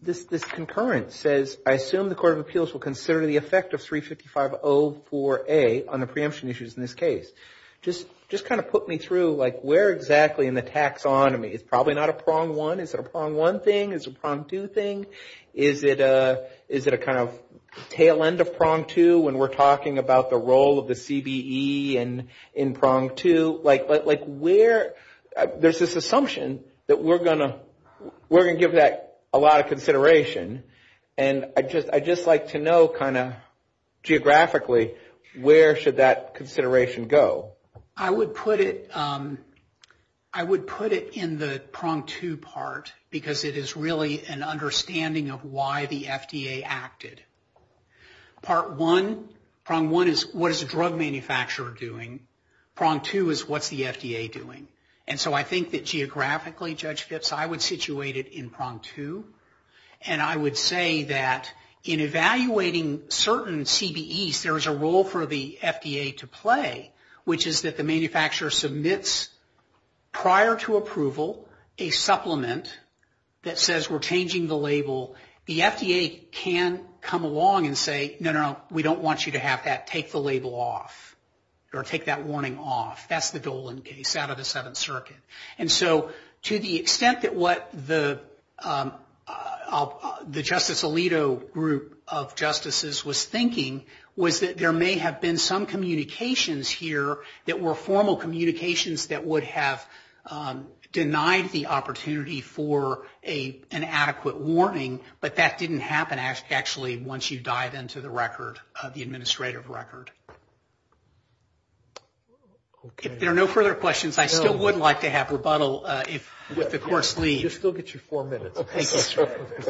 this concurrence says I assume the Court of Appeals will consider the effect of 35504A on the preemption issues in this case. Just kind of put me through, like, where exactly in the taxonomy? It's probably not a prong one. Is it a prong one thing? Is it a prong two thing? Is it a kind of tail end of prong two when we're talking about the role of the CBE in prong two? Like, where, there's this assumption that we're going to give that a lot of consideration, and I'd just like to know kind of geographically where should that consideration go? I would put it, I would put it in the prong two part because it is really an understanding of why the FDA acted. Part one, prong one is what is the drug manufacturer doing? Prong two is what's the FDA doing? And so I think that geographically, Judge Phipps, I would situate it in prong two, and I would say that in evaluating certain CBEs, there's a role for the FDA to play, which is that the manufacturer submits prior to approval a supplement that says we're changing the label. The FDA can come along and say, no, no, no, we don't want you to have that. Take the label off or take that warning off. That's the Dolan case out of the Seventh Circuit. And so to the extent that what the Justice Alito group of justices was thinking was that there may have been some communications here that were formal communications that would have denied the opportunity for an adequate warning, but that didn't happen actually once you dive into the record, the administrative record. If there are no further questions, I still would like to have rebuttal if the course leaves. We'll still get you four minutes. Thank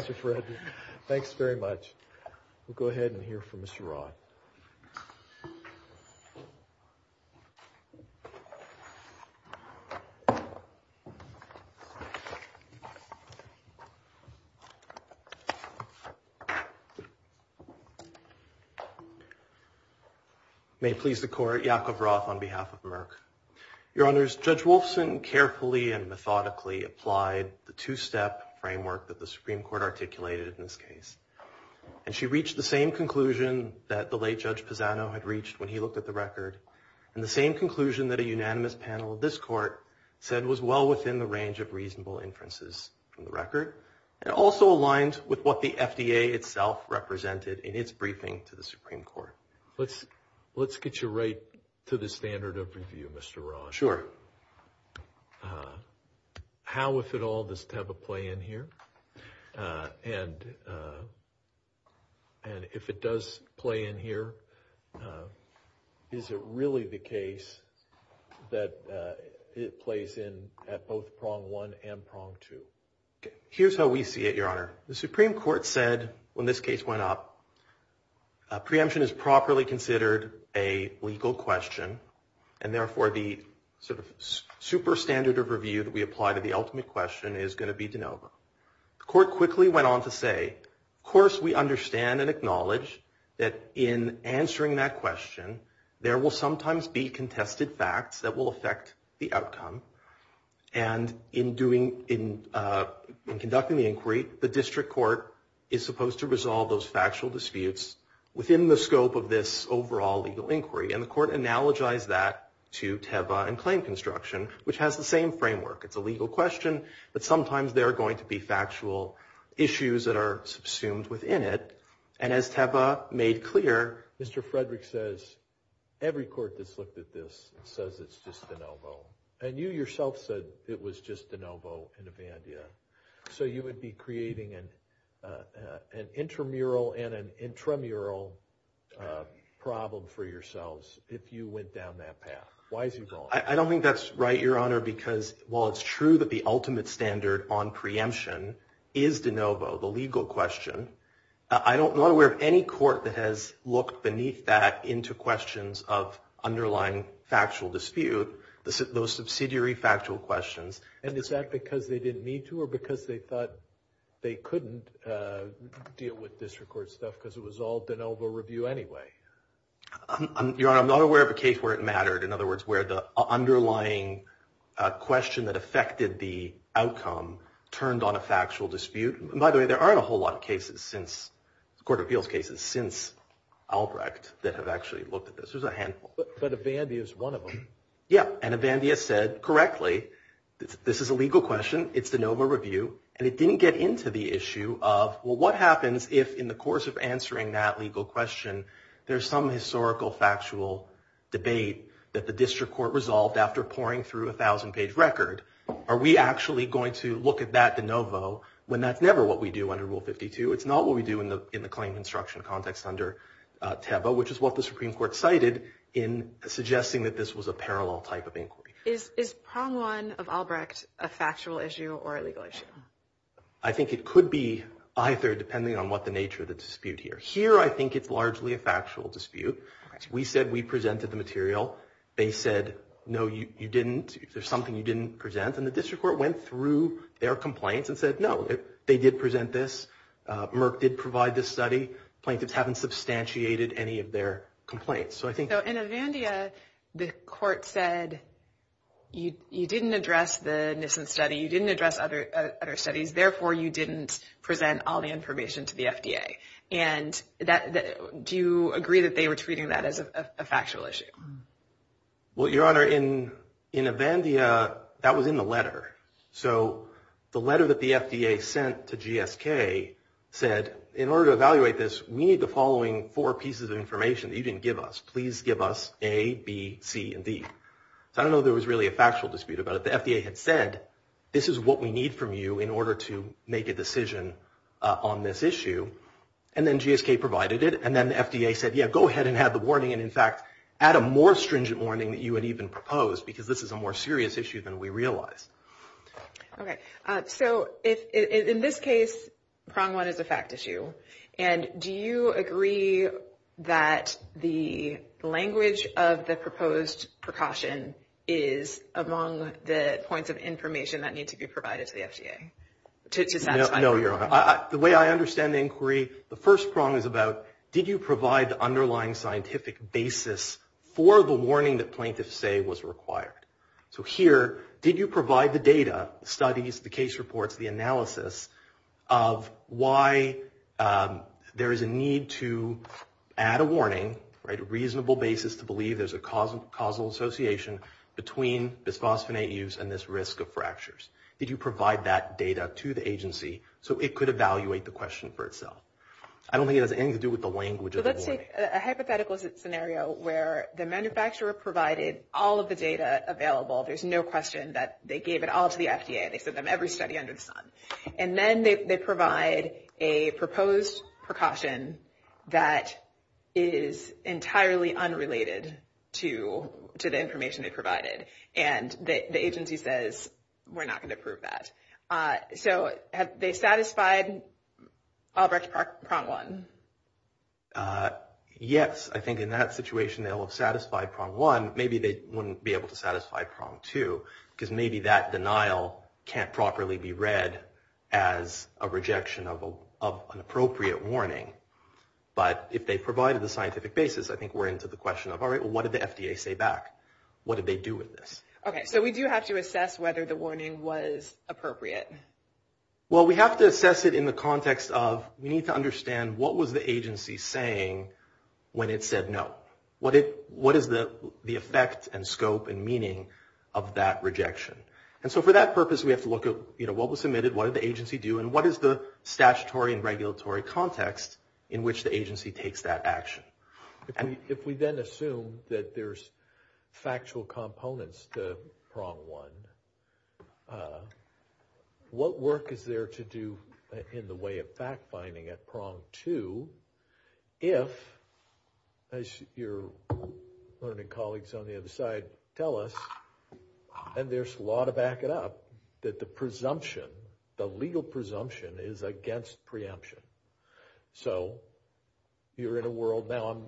you, Fred. Thanks very much. We'll go ahead and hear from Mr. Roth. May it please the Court, Yakov Roth on behalf of Merck. Your Honors, Judge Wolfson carefully and methodically applied the two-step framework that the Supreme Court articulated in this case. And she reached the same conclusion that the late Judge Pisano had reached when he looked at the record and the same conclusion that a unanimous panel of this Court said was well within the range of reasonable inferences from the record. It also aligns with what the FDA itself represented in its briefing to the Supreme Court. Let's get you right to the standard of review, Mr. Roth. Sure. How, if at all, does PEBA play in here? And if it does play in here, is it really the case that it plays in at both prong one and prong two? Here's how we see it, Your Honor. The Supreme Court said, when this case went up, preemption is properly considered a legal question and therefore the super standard of review that we apply to the ultimate question is going to be de novo. The Court quickly went on to say, of course we understand and acknowledge that in answering that question, there will sometimes be contested facts that will affect the outcome. And in conducting the inquiry, the District Court is supposed to resolve those factual disputes within the scope of this overall legal inquiry. And the Court analogized that to PEBA and claim construction, which has the same framework. It's a legal question, but sometimes there are going to be factual issues that are subsumed within it. And as PEBA made clear, Mr. Frederick says, every court that's looked at this says it's just de novo. And you yourself said it was just de novo in a bandia. So you would be creating an intramural and an intramural problem for yourselves if you went down that path. I don't think that's right, Your Honor, because while it's true that the ultimate standard on preemption is de novo, the legal question, I'm not aware of any court that has looked beneath that into questions of underlying factual dispute, those subsidiary factual questions. And is that because they didn't need to or because they thought they couldn't deal with District Court stuff because it was all de novo review anyway? Your Honor, I'm not aware of a case where it mattered, in other words, where the underlying question that affected the outcome turned on a factual dispute. By the way, there aren't a whole lot of cases since – court of appeals cases since Albrecht that have actually looked at this. There's a handful. But a bandia is one of them. Yeah, and a bandia said correctly, this is a legal question. It's de novo review. And it didn't get into the issue of, well, what happens if in the course of answering that legal question, there's some historical factual debate that the District Court resolved after poring through a 1,000-page record? Are we actually going to look at that de novo when that's never what we do under Rule 52? It's not what we do in the claim construction context under TEBA, which is what the Supreme Court cited in suggesting that this was a parallel type of inquiry. Is prong one of Albrecht a factual issue or a legal issue? I think it could be either, depending on what the nature of the dispute here. Here, I think it's largely a factual dispute. We said we presented the material. They said, no, you didn't. Is there something you didn't present? And the District Court went through their complaints and said, no, they did present this. Merck did provide this study. Plaintiffs haven't substantiated any of their complaints. So I think – So in Avandia, the court said you didn't address the Nissen study. You didn't address other studies. Therefore, you didn't present all the information to the FDA. And do you agree that they were treating that as a factual issue? Well, Your Honor, in Avandia, that was in the letter. So the letter that the FDA sent to GSK said, in order to evaluate this, we need the following four pieces of information that you didn't give us. Please give us A, B, C, and D. So I don't know if there was really a factual dispute about it. The FDA had said, this is what we need from you in order to make a decision on this issue. And then GSK provided it. And then the FDA said, yeah, go ahead and add the warning. And, in fact, add a more stringent warning that you would even propose because this is a more serious issue than we realize. Okay. So in this case, prong one is a fact issue. And do you agree that the language of the proposed precaution is among the points of information that needs to be provided to the FDA? No, Your Honor. The way I understand the inquiry, the first prong is about, did you provide the underlying scientific basis for the warning that plaintiffs say was required? So here, did you provide the data, the studies, the case reports, the analysis of why there is a need to add a warning, a reasonable basis to believe there's a causal association between the phosphonate use and this risk of fractures? Did you provide that data to the agency so it could evaluate the question for itself? I don't think it has anything to do with the language of the warning. Let's take a hypothetical scenario where the manufacturer provided all of the data available. There's no question that they gave it all to the FDA. They put them every study under the sun. And then they provide a proposed precaution that is entirely unrelated to the information they provided. And the agency says, we're not going to approve that. So have they satisfied Obrecht-Prong 1? Yes. I think in that situation they'll have satisfied Prong 1. Maybe they wouldn't be able to satisfy Prong 2, because maybe that denial can't properly be read as a rejection of an appropriate warning. But if they provided the scientific basis, I think we're into the question of, all right, what did the FDA say back? What did they do with this? Okay. So we do have to assess whether the warning was appropriate. Well, we have to assess it in the context of we need to understand what was the agency saying when it said no. What is the effect and scope and meaning of that rejection? And so for that purpose we have to look at what was submitted, what did the agency do, and what is the statutory and regulatory context in which the agency takes that action. If we then assume that there's factual components to Prong 1, what work is there to do in the way of fact-finding at Prong 2 if, as your learning colleagues on the other side tell us, and there's a lot of backing up, that the presumption, the legal presumption, is against preemption. So you're in a world, now I'm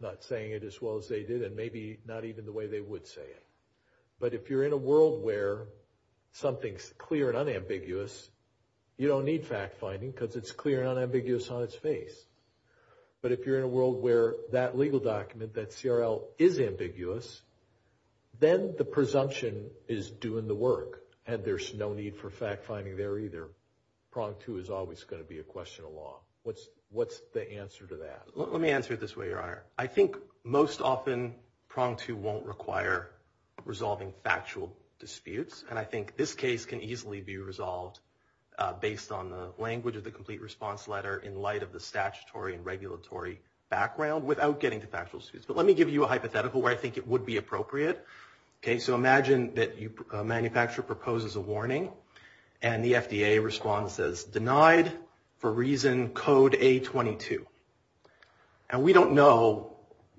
not saying it as well as they did and maybe not even the way they would say it, but if you're in a world where something's clear and unambiguous, you don't need fact-finding because it's clear and unambiguous on its face. But if you're in a world where that legal document, that CRL, is ambiguous, then the presumption is doing the work and there's no need for fact-finding there either. So Prong 2 is always going to be a question of law. What's the answer to that? Let me answer it this way, Your Honor. I think most often Prong 2 won't require resolving factual disputes, and I think this case can easily be resolved based on the language of the complete response letter in light of the statutory and regulatory background without getting to factual disputes. But let me give you a hypothetical where I think it would be appropriate. So imagine that a manufacturer proposes a warning and the FDA response says, Denied for reason code A-22. And we don't know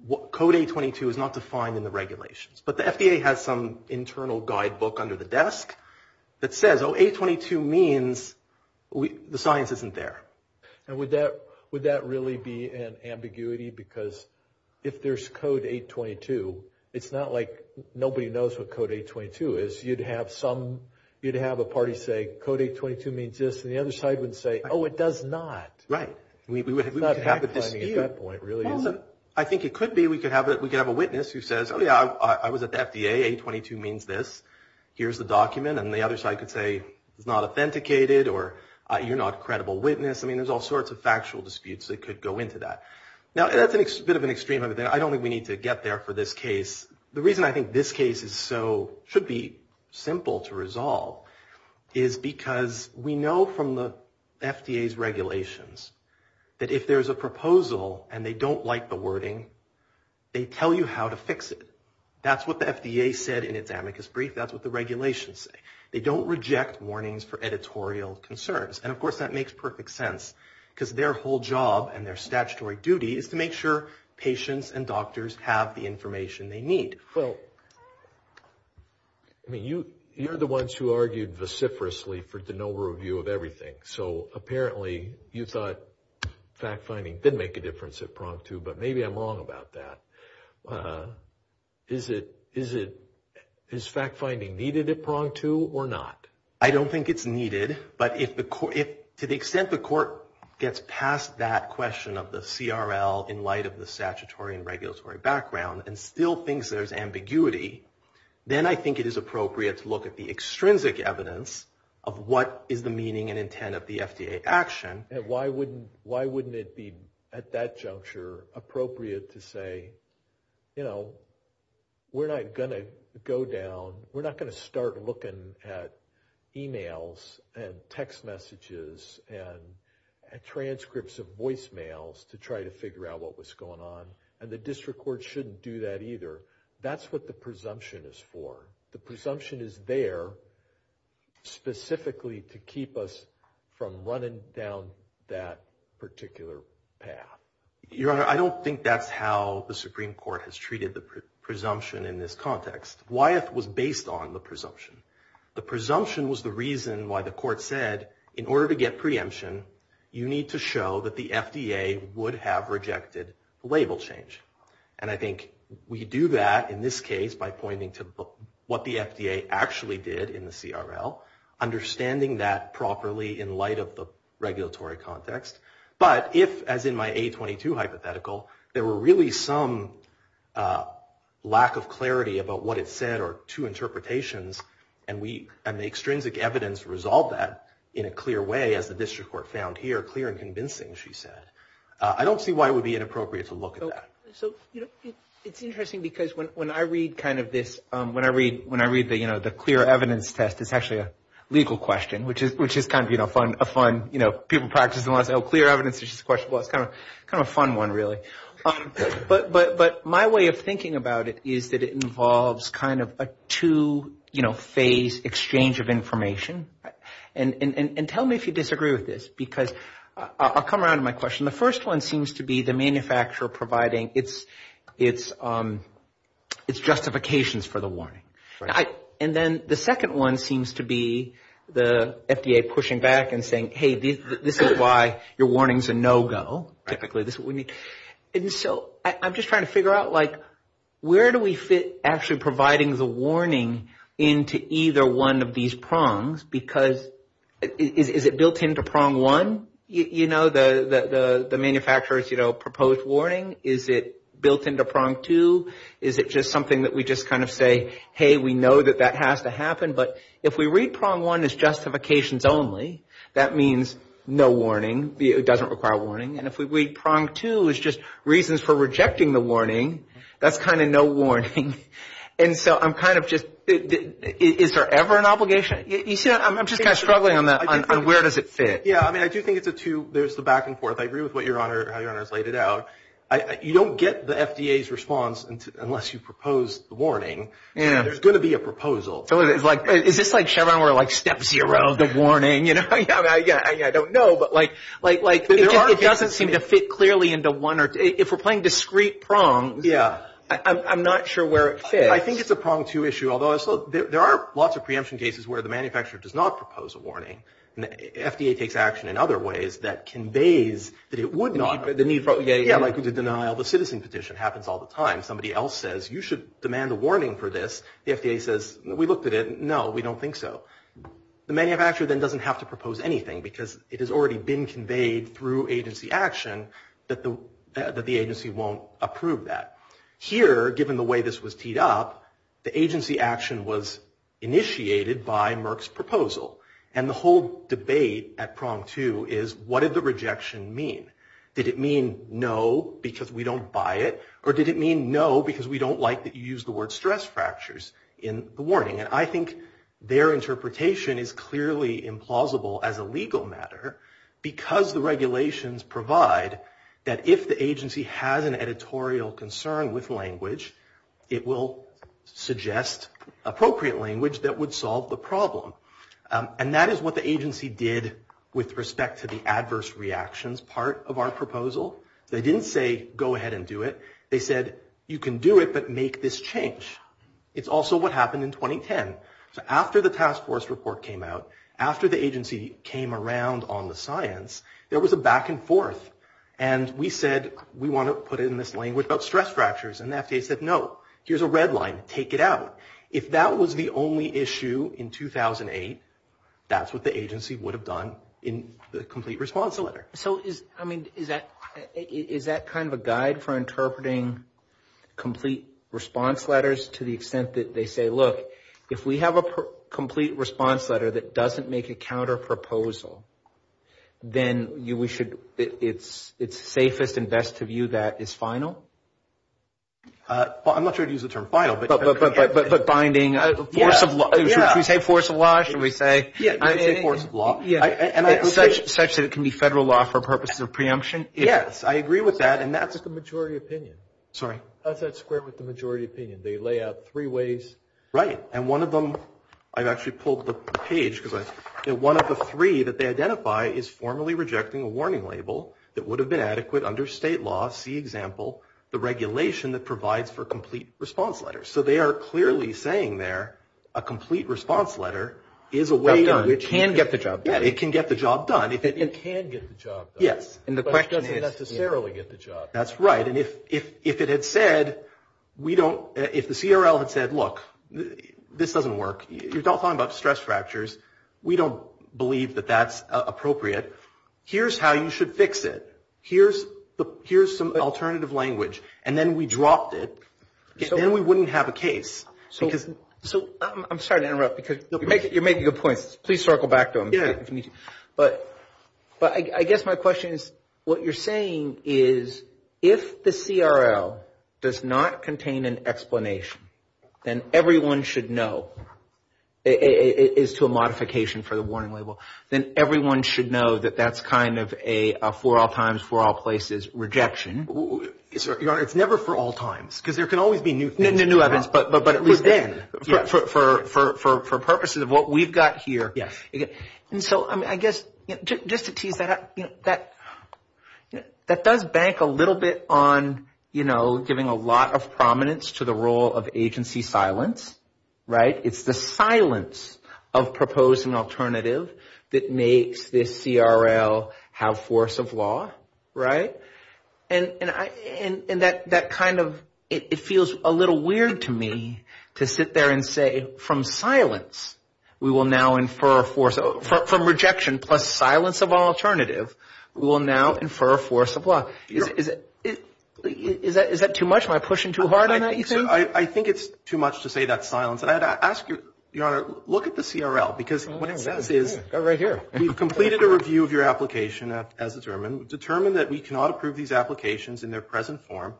what code A-22 is not defined in the regulations, but the FDA has some internal guidebook under the desk that says, Oh, A-22 means the science isn't there. And would that really be an ambiguity? Because if there's code A-22, it's not like nobody knows what code A-22 is. You'd have a party say, Code A-22 means this, and the other side would say, Oh, it does not. Right. Not fact-finding at that point, really. I think it could be. We could have a witness who says, Oh, yeah, I was at the FDA. A-22 means this. Here's the document. And the other side could say, Not authenticated or you're not a credible witness. I mean, there's all sorts of factual disputes that could go into that. Now, that's a bit of an extreme over there. I don't think we need to get there for this case. The reason I think this case should be simple to resolve is because we know from the FDA's regulations that if there's a proposal and they don't like the wording, they tell you how to fix it. That's what the FDA said in its amicus brief. That's what the regulations say. They don't reject warnings for editorial concerns. And, of course, that makes perfect sense because their whole job and their statutory duty is to make sure patients and doctors have the information they need. I mean, you're the ones who argued vociferously for the no review of everything. So, apparently, you thought fact-finding didn't make a difference at prong two, but maybe I'm wrong about that. Is fact-finding needed at prong two or not? I don't think it's needed, but to the extent the court gets past that question of the CRL in light of the statutory and regulatory background and still thinks there's ambiguity, then I think it is appropriate to look at the extrinsic evidence of what is the meaning and intent of the FDA action. Why wouldn't it be, at that juncture, appropriate to say, you know, we're not going to go down, looking at emails and text messages and transcripts of voicemails to try to figure out what was going on, and the district court shouldn't do that either. That's what the presumption is for. The presumption is there specifically to keep us from running down that particular path. Your Honor, I don't think that's how the Supreme Court has treated the presumption in this context. Gwyeth was based on the presumption. The presumption was the reason why the court said, in order to get preemption, you need to show that the FDA would have rejected label change. And I think we do that in this case by pointing to what the FDA actually did in the CRL, understanding that properly in light of the regulatory context. But if, as in my A22 hypothetical, there were really some lack of clarity about what it said or two interpretations and the extrinsic evidence resolved that in a clear way, as the district court found here clear and convincing, she said, I don't see why it would be inappropriate to look at that. It's interesting because when I read kind of this, when I read the clear evidence test, it's actually a legal question, which is kind of a fun, you know, people practice a lot of clear evidence, it's just a question. Well, it's kind of a fun one, really. But my way of thinking about it is that it involves kind of a two-phase exchange of information. And tell me if you disagree with this, because I'll come around to my question. The first one seems to be the manufacturer providing its justifications for the warning. And then the second one seems to be the FDA pushing back and saying, hey, this is why your warning's a no-go. And so I'm just trying to figure out, like, where do we fit actually providing the warning into either one of these prongs, because is it built into prong one, you know, the manufacturer's proposed warning? Is it built into prong two? Is it just something that we just kind of say, hey, we know that that has to happen. But if we read prong one as justifications only, that means no warning. It doesn't require warning. And if we read prong two as just reasons for rejecting the warning, that's kind of no warning. And so I'm kind of just, is there ever an obligation? You see, I'm just kind of struggling on that, on where does it fit. Yeah, I mean, I do think it's a two, there's the back and forth. I agree with what your Honor has laid it out. You don't get the FDA's response unless you propose the warning, and there's going to be a proposal. Is this like Chevron where, like, step zero, good warning, you know? I don't know, but, like, it doesn't seem to fit clearly into one or two. If we're playing discrete prong, I'm not sure where it fits. I think it's a prong two issue, although there are lots of preemption cases where the manufacturer does not propose a warning. The FDA takes action in other ways that conveys that it would not. The need for, like, the denial of a citizen petition happens all the time. Somebody else says, you should demand a warning for this. The FDA says, we looked at it, no, we don't think so. The manufacturer then doesn't have to propose anything because it has already been conveyed through agency action that the agency won't approve that. Here, given the way this was teed up, the agency action was initiated by Merck's proposal, and the whole debate at prong two is, what did the rejection mean? Did it mean, no, because we don't buy it? Or did it mean, no, because we don't like that you used the word stress fractures in the warning? And I think their interpretation is clearly implausible as a legal matter because the regulations provide that if the agency has an editorial concern with language, it will suggest appropriate language that would solve the problem. And that is what the agency did with respect to the adverse reactions part of our proposal. They didn't say, go ahead and do it. They said, you can do it, but make this change. It's also what happened in 2010. So after the task force report came out, after the agency came around on the science, there was a back and forth. And we said, we want to put in this language about stress fractures. And the FDA said, no, here's a red line. Take it out. If that was the only issue in 2008, that's what the agency would have done in the complete response letter. So is that kind of a guide for interpreting complete response letters to the extent that they say, look, if we have a complete response letter that doesn't make a counterproposal, then it's safest and best to view that as final? I'm not sure how to use the term final. But binding force of law. Should we say force of law? Should we say force of law? Such that it can be federal law for purposes of preemption? Yes, I agree with that, and that's the majority opinion. Sorry? That's the majority opinion. They lay out three ways. Right. And one of them, I've actually pulled up the page, because one of the three that they identify is formally rejecting a warning label that would have been adequate under state law, see example, the regulation that provides for complete response letters. So they are clearly saying there, a complete response letter is a way. It can get the job done. Yeah, it can get the job done. It can get the job done. But it doesn't necessarily get the job done. That's right. And if it had said, we don't – if the CRL had said, look, this doesn't work. You don't talk about stress fractures. We don't believe that that's appropriate. Here's how you should fix it. Here's some alternative language. And then we dropped it. Then we wouldn't have a case. I'm sorry to interrupt. You're making good points. Please circle back to them. But I guess my question is, what you're saying is, if the CRL does not contain an explanation, then everyone should know, as to a modification for the warning label, then everyone should know that that's kind of a for all times, for all places rejection. It's never for all times, because there can always be new things. For purposes of what we've got here. And so I guess, just to tease that out, that does bank a little bit on, you know, giving a lot of prominence to the role of agency silence, right? It's the silence of proposing alternative that makes the CRL have force of law, right? And that kind of, it feels a little weird to me to sit there and say, from silence we will now infer a force, from rejection plus silence of alternative, we will now infer a force of law. Is that too much? Am I pushing too hard on that, you think? I think it's too much to say that's silence. I'd ask you, Your Honor, look at the CRL, because what it says is, you've completed a review of your application as determined, and determined that we cannot approve these applications in their present form.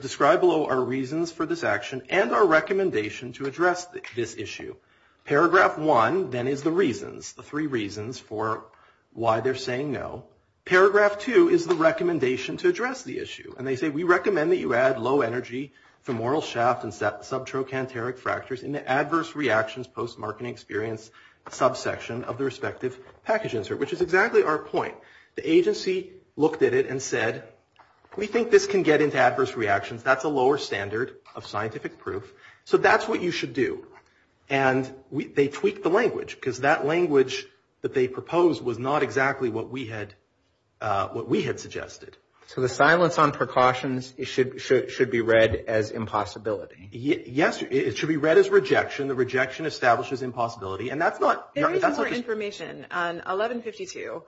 Describe below our reasons for this action and our recommendation to address this issue. Paragraph one then is the reasons, the three reasons for why they're saying no. Paragraph two is the recommendation to address the issue. And they say, we recommend that you add low energy, femoral shaft and subtrochanteric fractures in the adverse reactions post-marketing experience subsection of the respective package insert, which is exactly our point. The agency looked at it and said, we think this can get into adverse reactions. That's a lower standard of scientific proof. So that's what you should do. And they tweaked the language, because that language that they proposed was not exactly what we had suggested. So the silence on precautions should be read as impossibility. Yes, it should be read as rejection. The rejection establishes impossibility. There is more information on 1152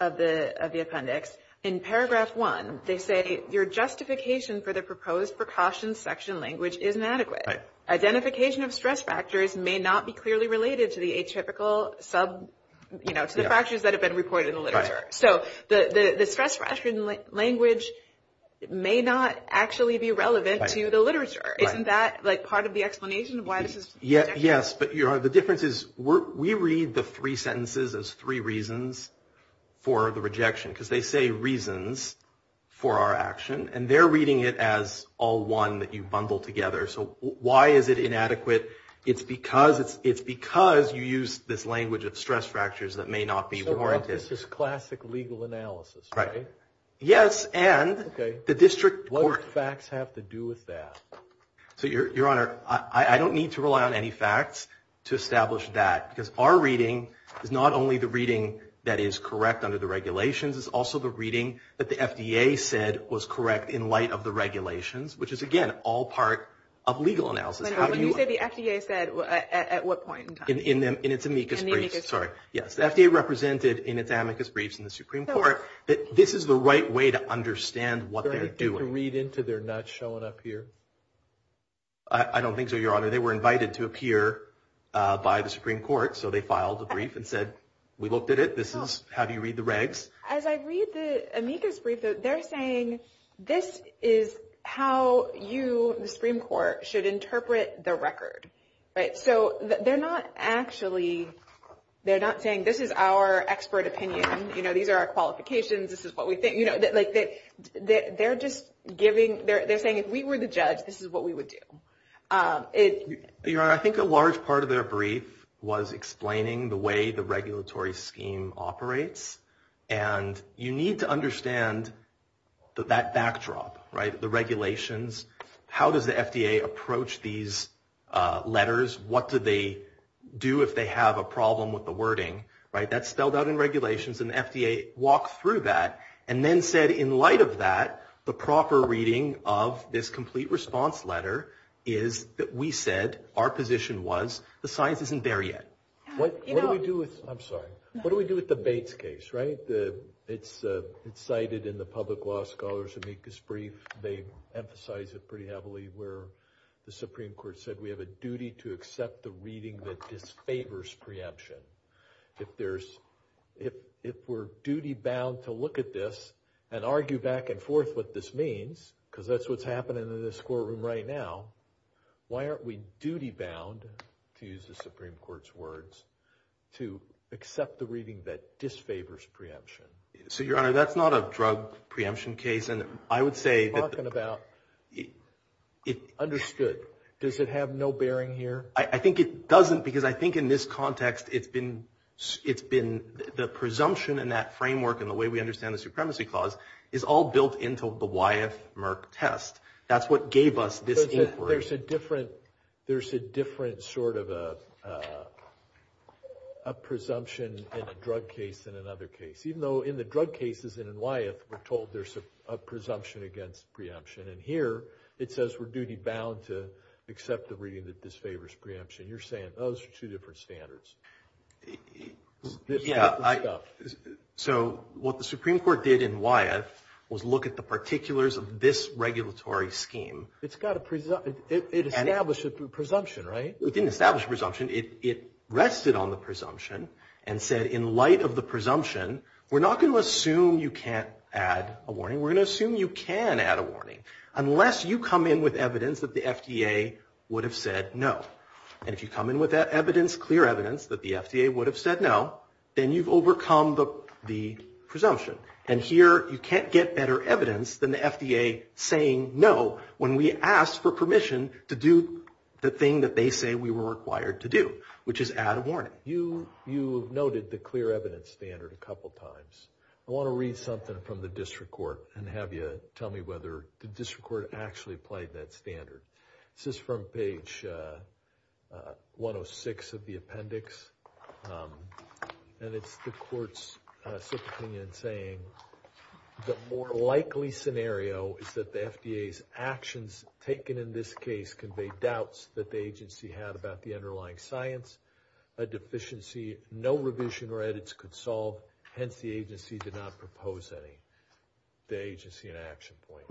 of the appendix. In paragraph one, they say, your justification for the proposed precaution section language is inadequate. Identification of stress factors may not be clearly related to the atypical sub, you know, to the fractures that have been reported in the literature. So the stress fraction language may not actually be relevant to the literature. Isn't that like part of the explanation of why this is? Yes, but, Your Honor, the difference is, we read the three sentences as three reasons for the rejection, because they say reasons for our action, and they're reading it as all one that you've bundled together. So why is it inadequate? It's because you use this language of stress fractures that may not be relevant. So this is classic legal analysis, right? Yes, and the district court. What would facts have to do with that? Your Honor, I don't need to rely on any facts to establish that, because our reading is not only the reading that is correct under the regulations, it's also the reading that the FDA said was correct in light of the regulations, which is, again, all part of legal analysis. When you say the FDA said, at what point in time? In its amicus briefs. In the amicus briefs. Yes, the FDA represented in its amicus briefs in the Supreme Court that this is the right way to understand what they're doing. I don't want to read into their nuts showing up here. I don't think so, Your Honor. They were invited to appear by the Supreme Court, so they filed a brief and said, we looked at it, this is how you read the regs. As I read the amicus brief, they're saying, this is how you, the Supreme Court, should interpret the record. So they're not actually saying, this is our expert opinion, these are our qualifications, this is what we think. They're saying, if we were the judge, this is what we would do. Your Honor, I think a large part of their brief was explaining the way the regulatory scheme operates, and you need to understand that backdrop, the regulations, how does the FDA approach these letters, what do they do if they have a problem with the wording. That's spelled out in regulations and the FDA walks through that and then said, in light of that, the proper reading of this complete response letter is that we said, our position was, the science isn't there yet. What do we do with the Bates case, right? It's cited in the public law scholars amicus brief. They emphasize it pretty heavily where the Supreme Court said, we have a duty to accept the reading that disfavors preemption. If we're duty-bound to look at this and argue back and forth what this means, because that's what's happening in this courtroom right now, why aren't we duty-bound, to use the Supreme Court's words, to accept the reading that disfavors preemption? So, Your Honor, that's not a drug preemption case. I'm talking about, understood. Does it have no bearing here? I think it doesn't, because I think in this context, it's been the presumption in that framework and the way we understand the supremacy clause is all built into the Wyeth-Merck test. That's what gave us this inquiry. There's a different sort of a presumption in a drug case than in another case, even though in the drug cases and in Wyeth, we're told there's a presumption against preemption, and here it says we're duty-bound to accept the reading that disfavors preemption. You're saying those are two different standards. So, what the Supreme Court did in Wyeth was look at the particulars of this regulatory scheme. It's got a presumption. It established a presumption, right? It didn't establish a presumption. It rested on the presumption and said, in light of the presumption, we're not going to assume you can't add a warning. We're going to assume you can add a warning, unless you come in with evidence that the FDA would have said no. And if you come in with that evidence, clear evidence that the FDA would have said no, then you've overcome the presumption. And here, you can't get better evidence than the FDA saying no when we ask for permission to do the thing that they say we were required to do, which is add a warning. You have noted the clear evidence standard a couple times. I want to read something from the district court and have you tell me whether the district court actually played that standard. This is from page 106 of the appendix. And it's the court's sixth opinion saying, the more likely scenario is that the FDA's actions taken in this case convey doubts that the agency had about the underlying science, a deficiency no revision or edits could solve, hence the agency did not propose any agency in action point.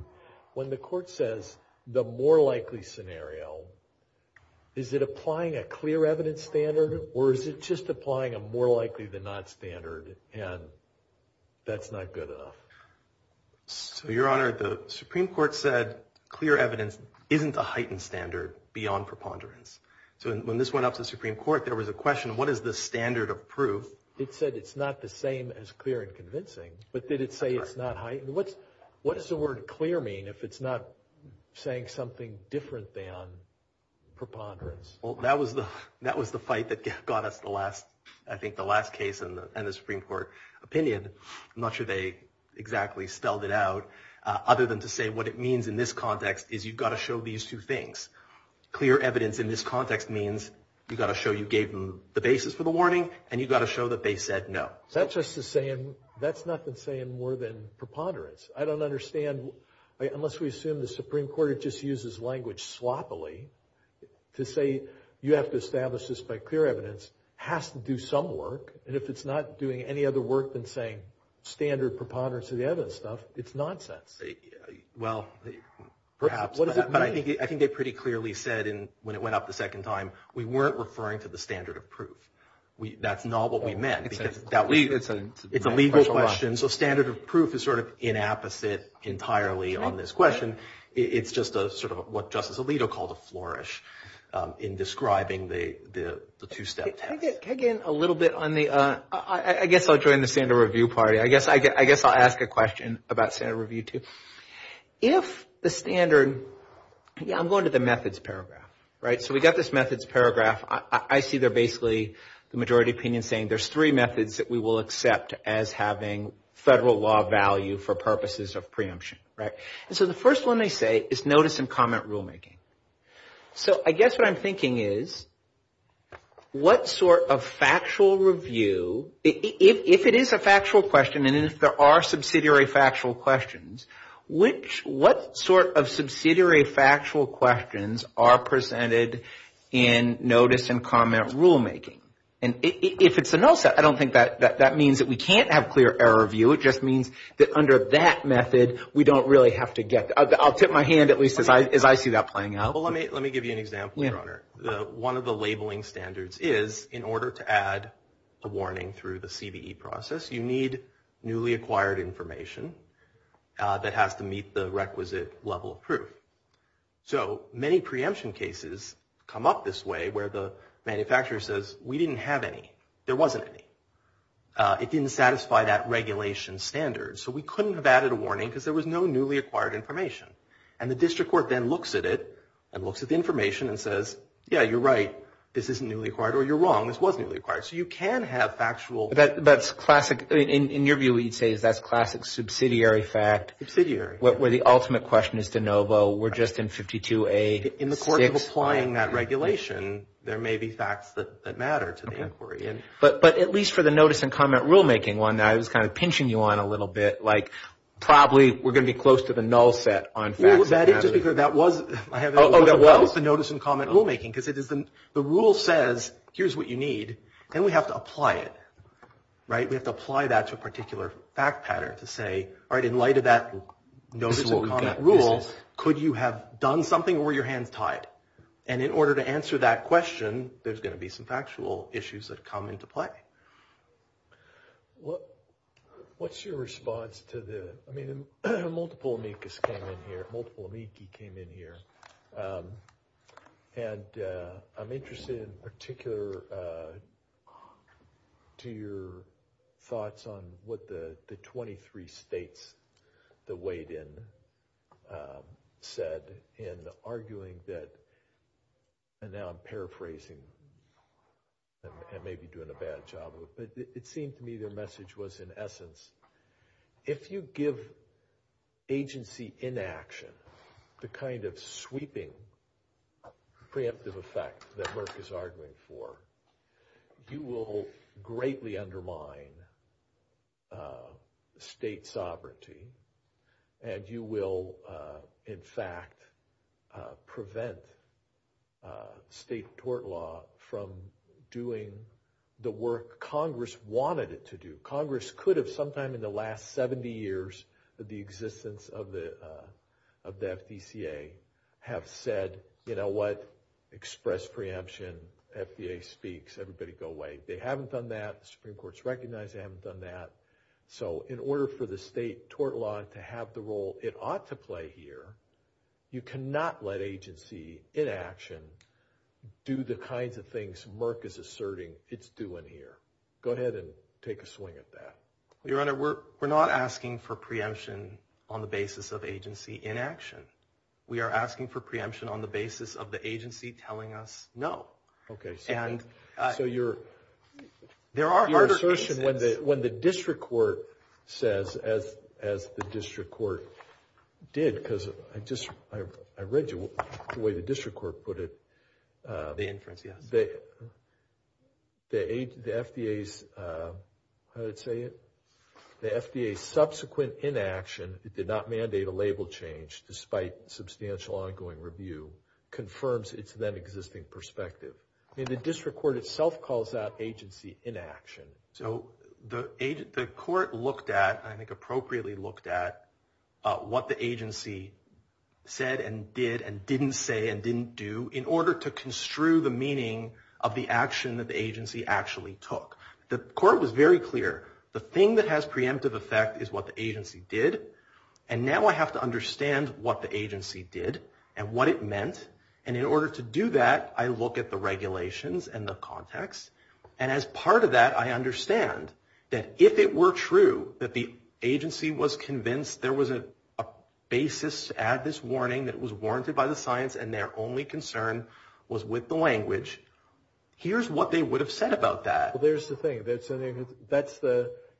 When the court says, the more likely scenario, is it applying a clear evidence standard or is it just applying a more likely than not standard and that's not good enough? Your Honor, the Supreme Court said clear evidence isn't a heightened standard beyond preponderance. So when this went up to the Supreme Court, there was a question, what is the standard of proof? It said it's not the same as clear and convincing, but did it say it's not heightened? What does the word clear mean if it's not saying something different than preponderance? Well, that was the fight that got us the last, I think the last case in the Supreme Court opinion. I'm not sure they exactly spelled it out, other than to say what it means in this context is you've got to show these two things. Clear evidence in this context means you've got to show you gave them the basis for the warning and you've got to show that they said no. That's just the same, that's nothing saying more than preponderance. I don't understand, unless we assume the Supreme Court just uses language sloppily to say you have to establish this by clear evidence, has to do some work and if it's not doing any other work than saying standard preponderance of evidence stuff, it's nonsense. Well, perhaps, but I think they pretty clearly said when it went up the second time, we weren't referring to the standard of proof. That's not what we meant. It's a legal question, so standard of proof is sort of inapposite entirely on this question. It's just sort of what Justice Alito called a flourish in describing the two steps. Can I get in a little bit on the, I guess I'll join the standard review party. I guess I'll ask a question about standard review too. If the standard, I'm going to the methods paragraph. So we've got this methods paragraph. I see they're basically the majority opinion saying there's three methods that we will accept as having federal law value for purposes of preemption. So the first one they say is notice and comment rulemaking. So I guess what I'm thinking is what sort of factual review, if it is a factual question and there are subsidiary factual questions, what sort of subsidiary factual questions are presented in notice and comment rulemaking? And if it's a null set, I don't think that means that we can't have clear error review. It just means that under that method, we don't really have to get, I'll tip my hand at least as I see that playing out. Well, let me give you an example, Your Honor. One of the labeling standards is in order to add a warning through the CBE process, you need newly acquired information that has to meet the requisite level of proof. So many preemption cases come up this way where the manufacturer says, we didn't have any, there wasn't any. It didn't satisfy that regulation standard. So we couldn't have added a warning because there was no newly acquired information. And the district court then looks at it and looks at the information and says, yeah, you're right, this isn't newly acquired or you're wrong, this was newly acquired. So you can have factual. That's classic. In your view, you'd say that's classic subsidiary fact. Subsidiary. Where the ultimate question is de novo. We're just in 52A. In the course of applying that regulation, there may be facts that matter to the inquiry. But at least for the notice and comment rulemaking one, I was kind of pinching you on a little bit. Like probably we're going to be close to the null set on facts. That was the notice and comment rulemaking. The rule says, here's what you need. Then we have to apply it. We have to apply that to a particular fact pattern to say, all right, in light of that notice and comment rule, could you have done something or were your hands tied? And in order to answer that question, there's going to be some factual issues that come into play. What's your response to the, I mean, multiple amicus came in here, and I'm interested in particular to your thoughts on what the 23 states that weighed in said in arguing that, and now I'm paraphrasing. I may be doing a bad job. But it seemed to me their message was, in essence, if you give agency inaction, the kind of sweeping preemptive effect that Merck is arguing for, you will greatly undermine state sovereignty and you will, in fact, prevent state court law from doing the work Congress wanted it to do. Congress could have sometime in the last 70 years of the existence of the FDCA have said, you know what, express preemption. FDA speaks. Everybody go away. They haven't done that. The Supreme Court's recognized they haven't done that. So in order for the state tort law to have the role it ought to play here, you cannot let agency inaction do the kinds of things Merck is asserting it's doing here. Go ahead and take a swing at that. Your Honor, we're not asking for preemption on the basis of agency inaction. We are asking for preemption on the basis of the agency telling us no. Okay. So your assertion when the district court says, as the district court did, because I read you the way the district court put it. The inference, yeah. The FDA's subsequent inaction, it did not mandate a label change despite substantial ongoing review, confirms its then existing perspective. I mean, the district court itself calls out agency inaction. So the court looked at, I think appropriately looked at, what the agency said and did and didn't say and didn't do in order to construe the meaning of the action that the agency actually took. The court was very clear. The thing that has preemptive effect is what the agency did. And now I have to understand what the agency did and what it meant. And in order to do that, I look at the regulations and the context. And as part of that, I understand that if it were true that the agency was convinced there was a basis to add this warning that was warranted by the concern was with the language, here's what they would have said about that. Well, there's the thing.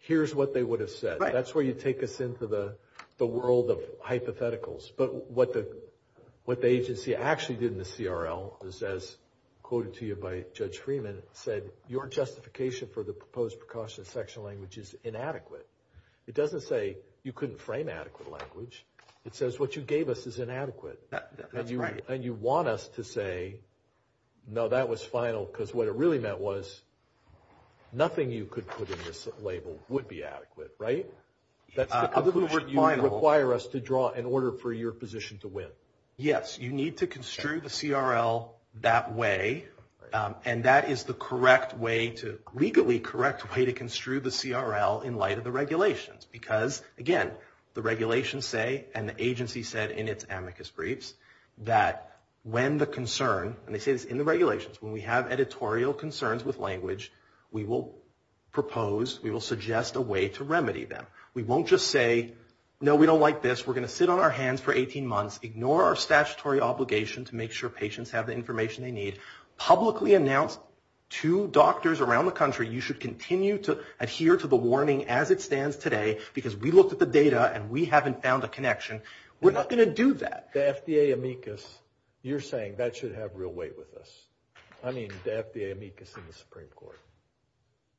Here's what they would have said. That's where you take us into the world of hypotheticals. But what the agency actually did in the CRL is, as quoted to you by Judge Freeman, said your justification for the proposed precautionary section language is inadequate. It doesn't say you couldn't frame adequate language. It says what you gave us is inadequate. That's right. And you want us to say, no, that was final. Because what it really meant was nothing you could put in this label would be adequate, right? In other words, you wouldn't require us to draw in order for your position to win. Yes. You need to construe the CRL that way. And that is the correct way to, legally correct way to construe the CRL in light of the regulations. Because, again, the regulations say, and the agency said in its amicus briefs, that when the concern, and they say this in the regulations, when we have editorial concerns with language, we will propose, we will suggest a way to remedy them. We won't just say, no, we don't like this. We're going to sit on our hands for 18 months, ignore our statutory obligation to make sure patients have the information they need, publicly announce to doctors around the country, you should continue to adhere to the warning as it stands today, because we looked at the data and we haven't found a connection. We're not going to do that. The FDA amicus, you're saying that should have real weight with us. I mean, the FDA amicus in the Supreme Court.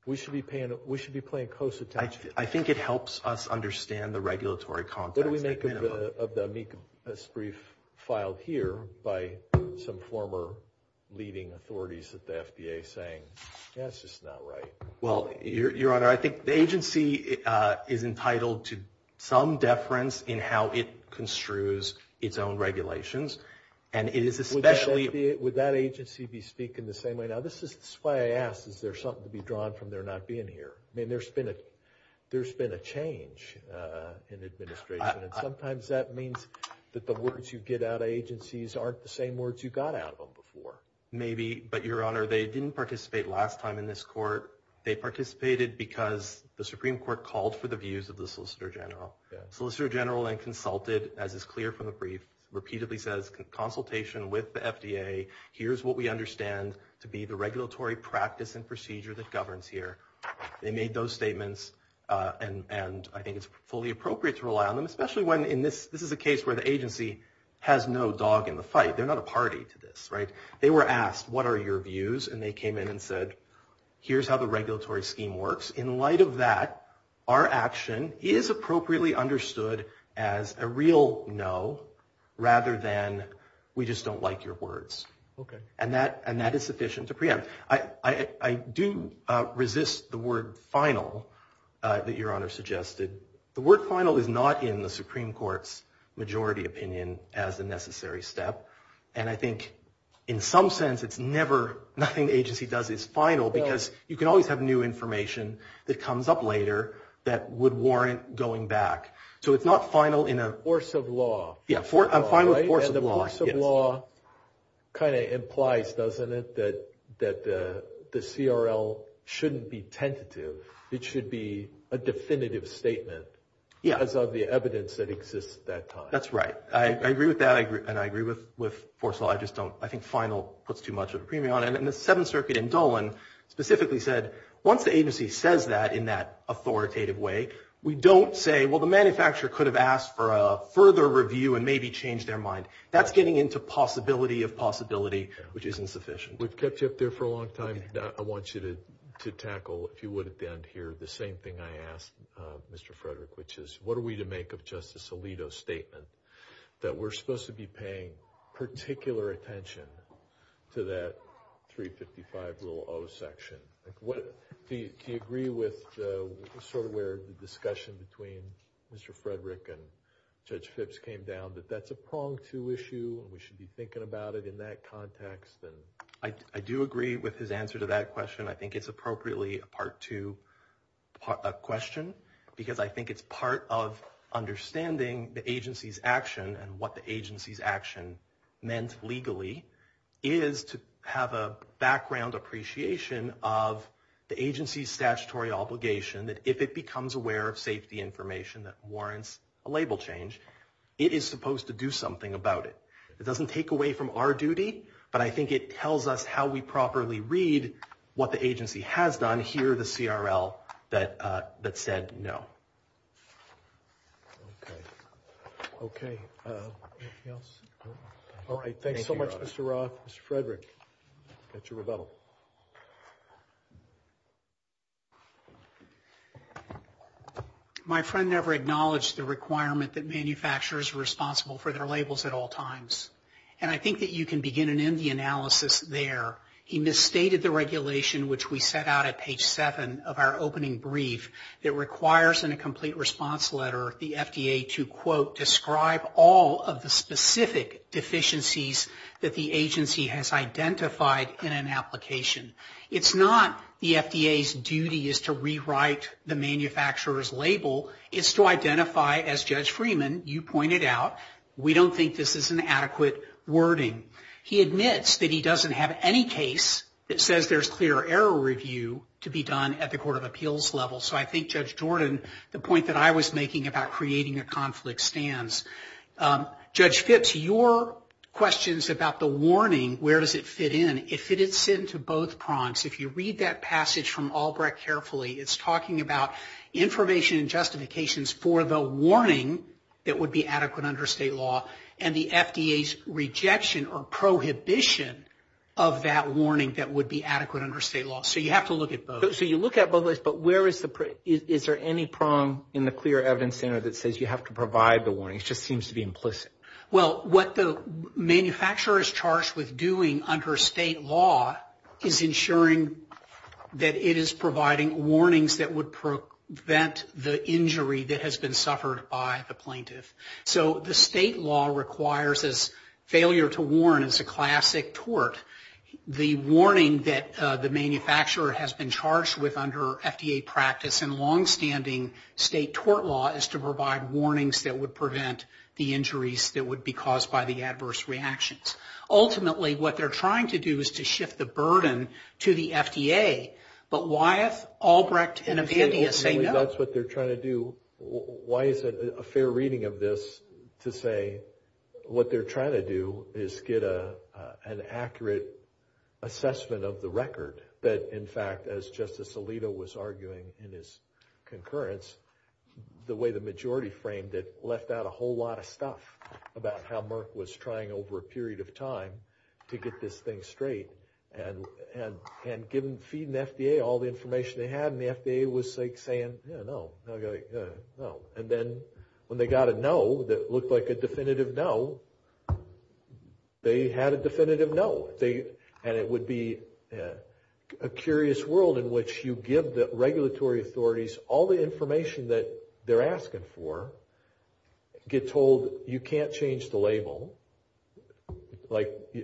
We should be paying close attention. I think it helps us understand the regulatory context. What do we make of the amicus brief filed here by some former leading authorities at the FDA saying, yeah, it's just not right. Well, Your Honor, I think the agency is entitled to some deference in how it construes its own regulations. Would that agency be speaking the same way? Now, this is why I asked, is there something to be drawn from their not being here? I mean, there's been a change in administration, and sometimes that means that the words you get out of agencies aren't the same words you got out of them before. Maybe, but, Your Honor, they didn't participate last time in this court. They participated because the Supreme Court called for the views of the Solicitor General. The Solicitor General then consulted, as is clear from the brief, repeatedly says, consultation with the FDA, here's what we understand to be the regulatory practice and procedure that governs here. They made those statements, and I think it's fully appropriate to rely on them, especially when this is a case where the agency has no dog in the fight. They're not a party to this, right? They were asked, what are your views? And they came in and said, here's how the regulatory scheme works. In light of that, our action is appropriately understood as a real no, rather than we just don't like your words. Okay. And that is sufficient to preempt. I do resist the word final that Your Honor suggested. The word final is not in the Supreme Court's majority opinion as a necessary step. And I think in some sense it's never, nothing the agency does is final because you can always have new information that comes up later that would warrant going back. So it's not final in a- A force of law. Yeah, a final force of law. And the force of law kind of implies, doesn't it, that the CRL shouldn't be tentative. It should be a definitive statement because of the evidence that exists at that time. That's right. I agree with that. And I agree with force of law. I just don't, I think final puts too much of a premium on it. And the Seventh Circuit in Dolan specifically said, once the agency says that in that authoritative way, we don't say, well, the manufacturer could have asked for a further review and maybe changed their mind. That's getting into possibility of possibility, which isn't sufficient. We've kept you up there for a long time. I want you to tackle, if you would, at the end here, the same thing I asked Mr. Frederick, which is what are we to make of Justice Alito's statement that we're supposed to be paying particular attention to that 355 rule O section? Do you agree with sort of where the discussion between Mr. Frederick and Judge Phipps came down, that that's a prong to issue, and we should be thinking about it in that context? I do agree with his answer to that question. I think it's appropriately a part two question because I think it's part of understanding the agency's action and what the agency's action meant legally, is to have a background appreciation of the agency's statutory obligation that if it becomes aware of safety information that warrants a label change, it is supposed to do something about it. It doesn't take away from our duty, but I think it tells us how we properly read what the agency has done and what the agency has done. I don't want to hear the CRL that said no. Okay. Anything else? All right. Thanks so much, Mr. Roth. Mr. Frederick, that's your rebuttal. My friend never acknowledged the requirement that manufacturers are responsible for their labels at all times. And I think that you can begin and end the analysis there. He misstated the regulation, which we set out at page seven of our opening brief, that requires in a complete response letter the FDA to, quote, describe all of the specific deficiencies that the agency has identified in an application. It's not the FDA's duty is to rewrite the manufacturer's label. It's to identify, as Judge Freeman, you pointed out, we don't think this is an adequate wording. He admits that he doesn't have any case that says there's clear error review to be done at the Court of Appeals level. So I think, Judge Jordan, the point that I was making about creating a conflict stands. Judge Phipps, your questions about the warning, where does it fit in, it fits into both prongs. If you read that passage from Albrecht carefully, it's talking about information and justifications for the warning that would be adequate under state law, and the FDA's rejection or prohibition of that warning that would be adequate under state law. So you have to look at both. So you look at both of those, but is there any prong in the Clear Evidence Center that says you have to provide the warning? It just seems to be implicit. Well, what the manufacturer is charged with doing under state law is ensuring that it is providing warnings that would prevent the injury that would be caused by the adverse reactions. So the state law requires this failure to warn as a classic tort. The warning that the manufacturer has been charged with under FDA practice and long-standing state tort law is to provide warnings that would prevent the injuries that would be caused by the adverse reactions. Ultimately, what they're trying to do is to shift the burden to the FDA, but why is Albrecht in opinion saying no? If that's what they're trying to do, why is it a fair reading of this to say what they're trying to do is get an accurate assessment of the record that, in fact, as Justice Alito was arguing in his concurrence, the way the majority framed it left out a whole lot of stuff about how Merck was trying over a period of time to get this thing straight and feed the FDA was saying, yeah, no. And then when they got a no that looked like a definitive no, they had a definitive no. And it would be a curious world in which you give the regulatory authorities all the information that they're asking for, get told you can't change the label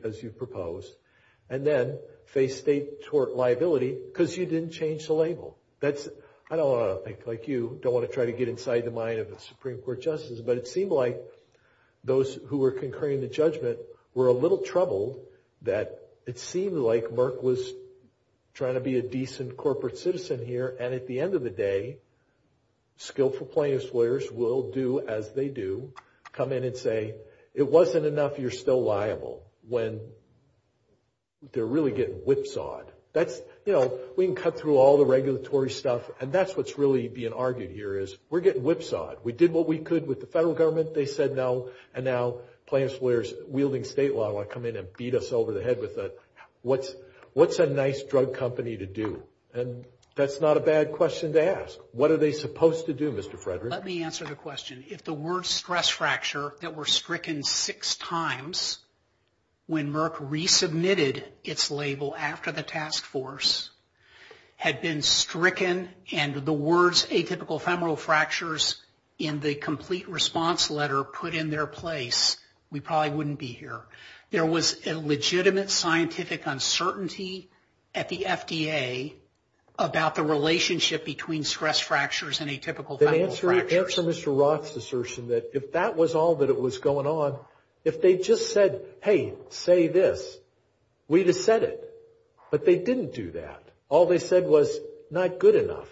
as you propose, and then face state tort liability because you didn't change the label. I don't want to think like you, don't want to try to get inside the mind of the Supreme Court justices, but it seemed like those who were concurring the judgment were a little troubled that it seemed like Merck was trying to be a decent corporate citizen here and at the end of the day, skillful plaintiffs' lawyers will do as they do, come in and say it wasn't enough, you're still liable. When they're really getting whipsawed. You know, we can cut through all the regulatory stuff, and that's what's really being argued here is we're getting whipsawed. We did what we could with the federal government, they said no, and now plaintiffs' lawyers wielding state law will come in and beat us over the head with what's a nice drug company to do? And that's not a bad question to ask. What are they supposed to do, Mr. Frederick? Let me answer the question. If the word stress fracture that were stricken six times when Merck resubmitted its label after the task force had been stricken and the words atypical femoral fractures in the complete response letter put in their place, we probably wouldn't be here. There was a legitimate scientific uncertainty at the FDA about the femoral fractures. Answer Mr. Rock's assertion that if that was all that was going on, if they just said, hey, say this, we'd have said it. But they didn't do that. All they said was not good enough.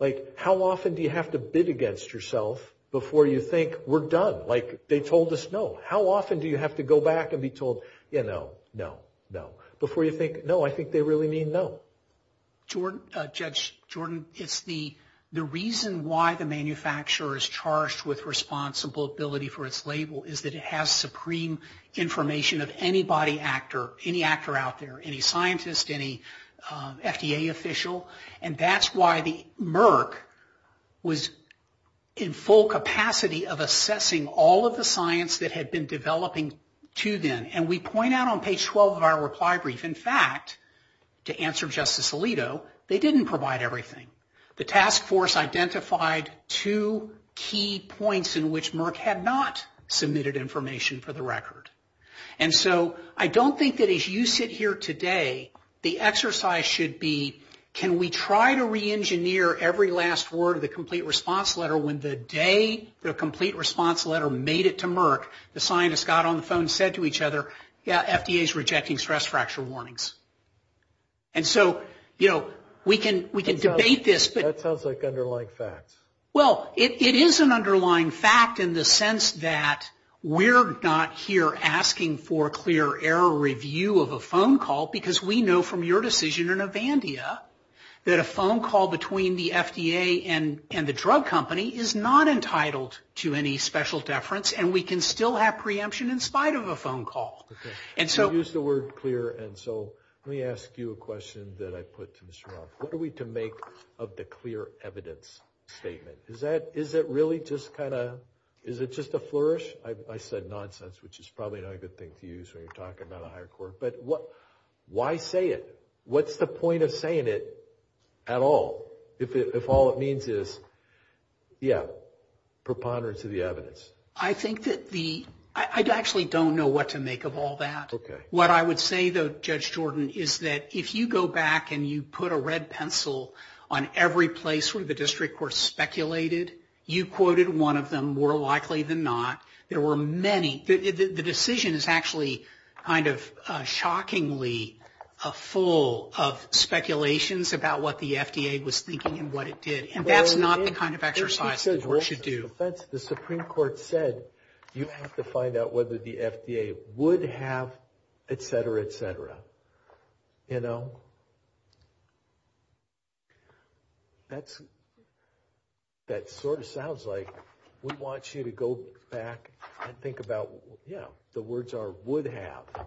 Like how often do you have to bid against yourself before you think we're done? Like they told us no. How often do you have to go back and be told, you know, no, no, before you think, no, I think they really mean no? Judge Jordan, it's the reason why the manufacturer is charged with responsibility for its label is that it has supreme information of any body actor, any actor out there, any scientist, any FDA official. And that's why Merck was in full capacity of assessing all of the science that had been developing to them. And we point out on page 12 of our reply brief, in fact, to answer Justice Alito, they didn't provide everything. The task force identified two key points in which Merck had not submitted information for the record. And so I don't think that as you sit here today, the exercise should be, can we try to reengineer every last word of the complete response letter when the day the complete response letter made it to Merck, the scientists got on the phone and said to each other, yeah, FDA is rejecting stress fracture warnings. And so, you know, we can debate this. That sounds like underlying facts. Well, it is an underlying fact in the sense that we're not here asking for clear error review of a phone call because we know from your decision in Avandia that a phone call between the FDA and the drug company is not entitled to any special deference and we can still have preemption in spite of a phone call. Okay. I use the word clear and so let me ask you a question that I put to Mr. Monk. What are we to make of the clear evidence statement? Is that really just kind of, is it just a flourish? I said nonsense, which is probably not a good thing to use when you're talking about a higher court. But why say it? What's the point of saying it at all if all it means is, yeah, preponderance of the evidence? I think that the, I actually don't know what to make of all that. Okay. What I would say, though, Judge Jordan, is that if you go back and you put a red pencil on every place where the district court speculated, you quoted one of them more likely than not. There were many, the decision is actually kind of shockingly full of speculations about what the FDA was thinking and what it did. And that's not the kind of exercise we should do. The Supreme Court said you have to find out whether the FDA would have, et cetera, et cetera, you know? That sort of sounds like we want you to go back and think about, yeah, the words are would have.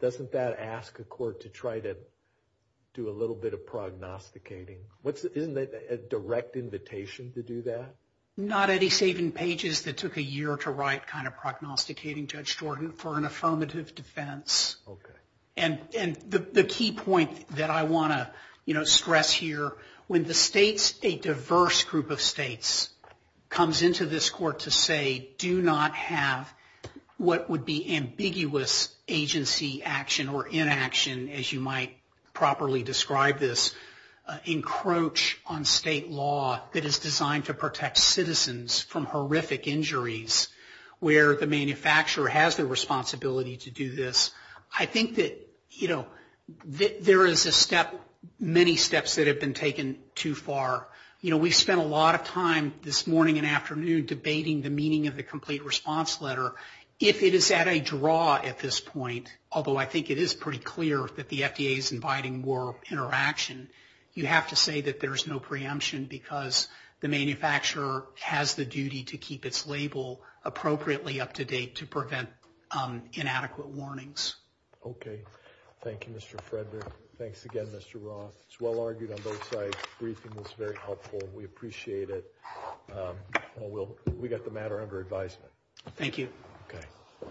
Doesn't that ask a court to try to do a little bit of prognosticating? Isn't it a direct invitation to do that? Not any saving pages that took a year to write kind of prognosticating, Judge Jordan, for an affirmative defense. Okay. And the key point that I want to, you know, stress here, when the states, a diverse group of states, comes into this court to say, do not have what would be ambiguous agency action or inaction, as you might properly describe this, encroach on state law that is designed to protect citizens from horrific injuries, where the manufacturer has the responsibility to do this. I think that, you know, there is a step, many steps that have been taken too far. You know, we've spent a lot of time this morning and afternoon debating the meaning of the complete response letter. If it is at a draw at this point, although I think it is pretty clear that the FDA is inviting more interaction, you have to say that there is no preemption because the manufacturer has the duty to keep its label appropriately up to date to prevent inadequate warnings. Okay. Thank you, Mr. Frederick. Thanks again, Mr. Roth. It's well argued on both sides. Briefing was very helpful and we appreciate it. We got the matter under advisement. Thank you. Okay.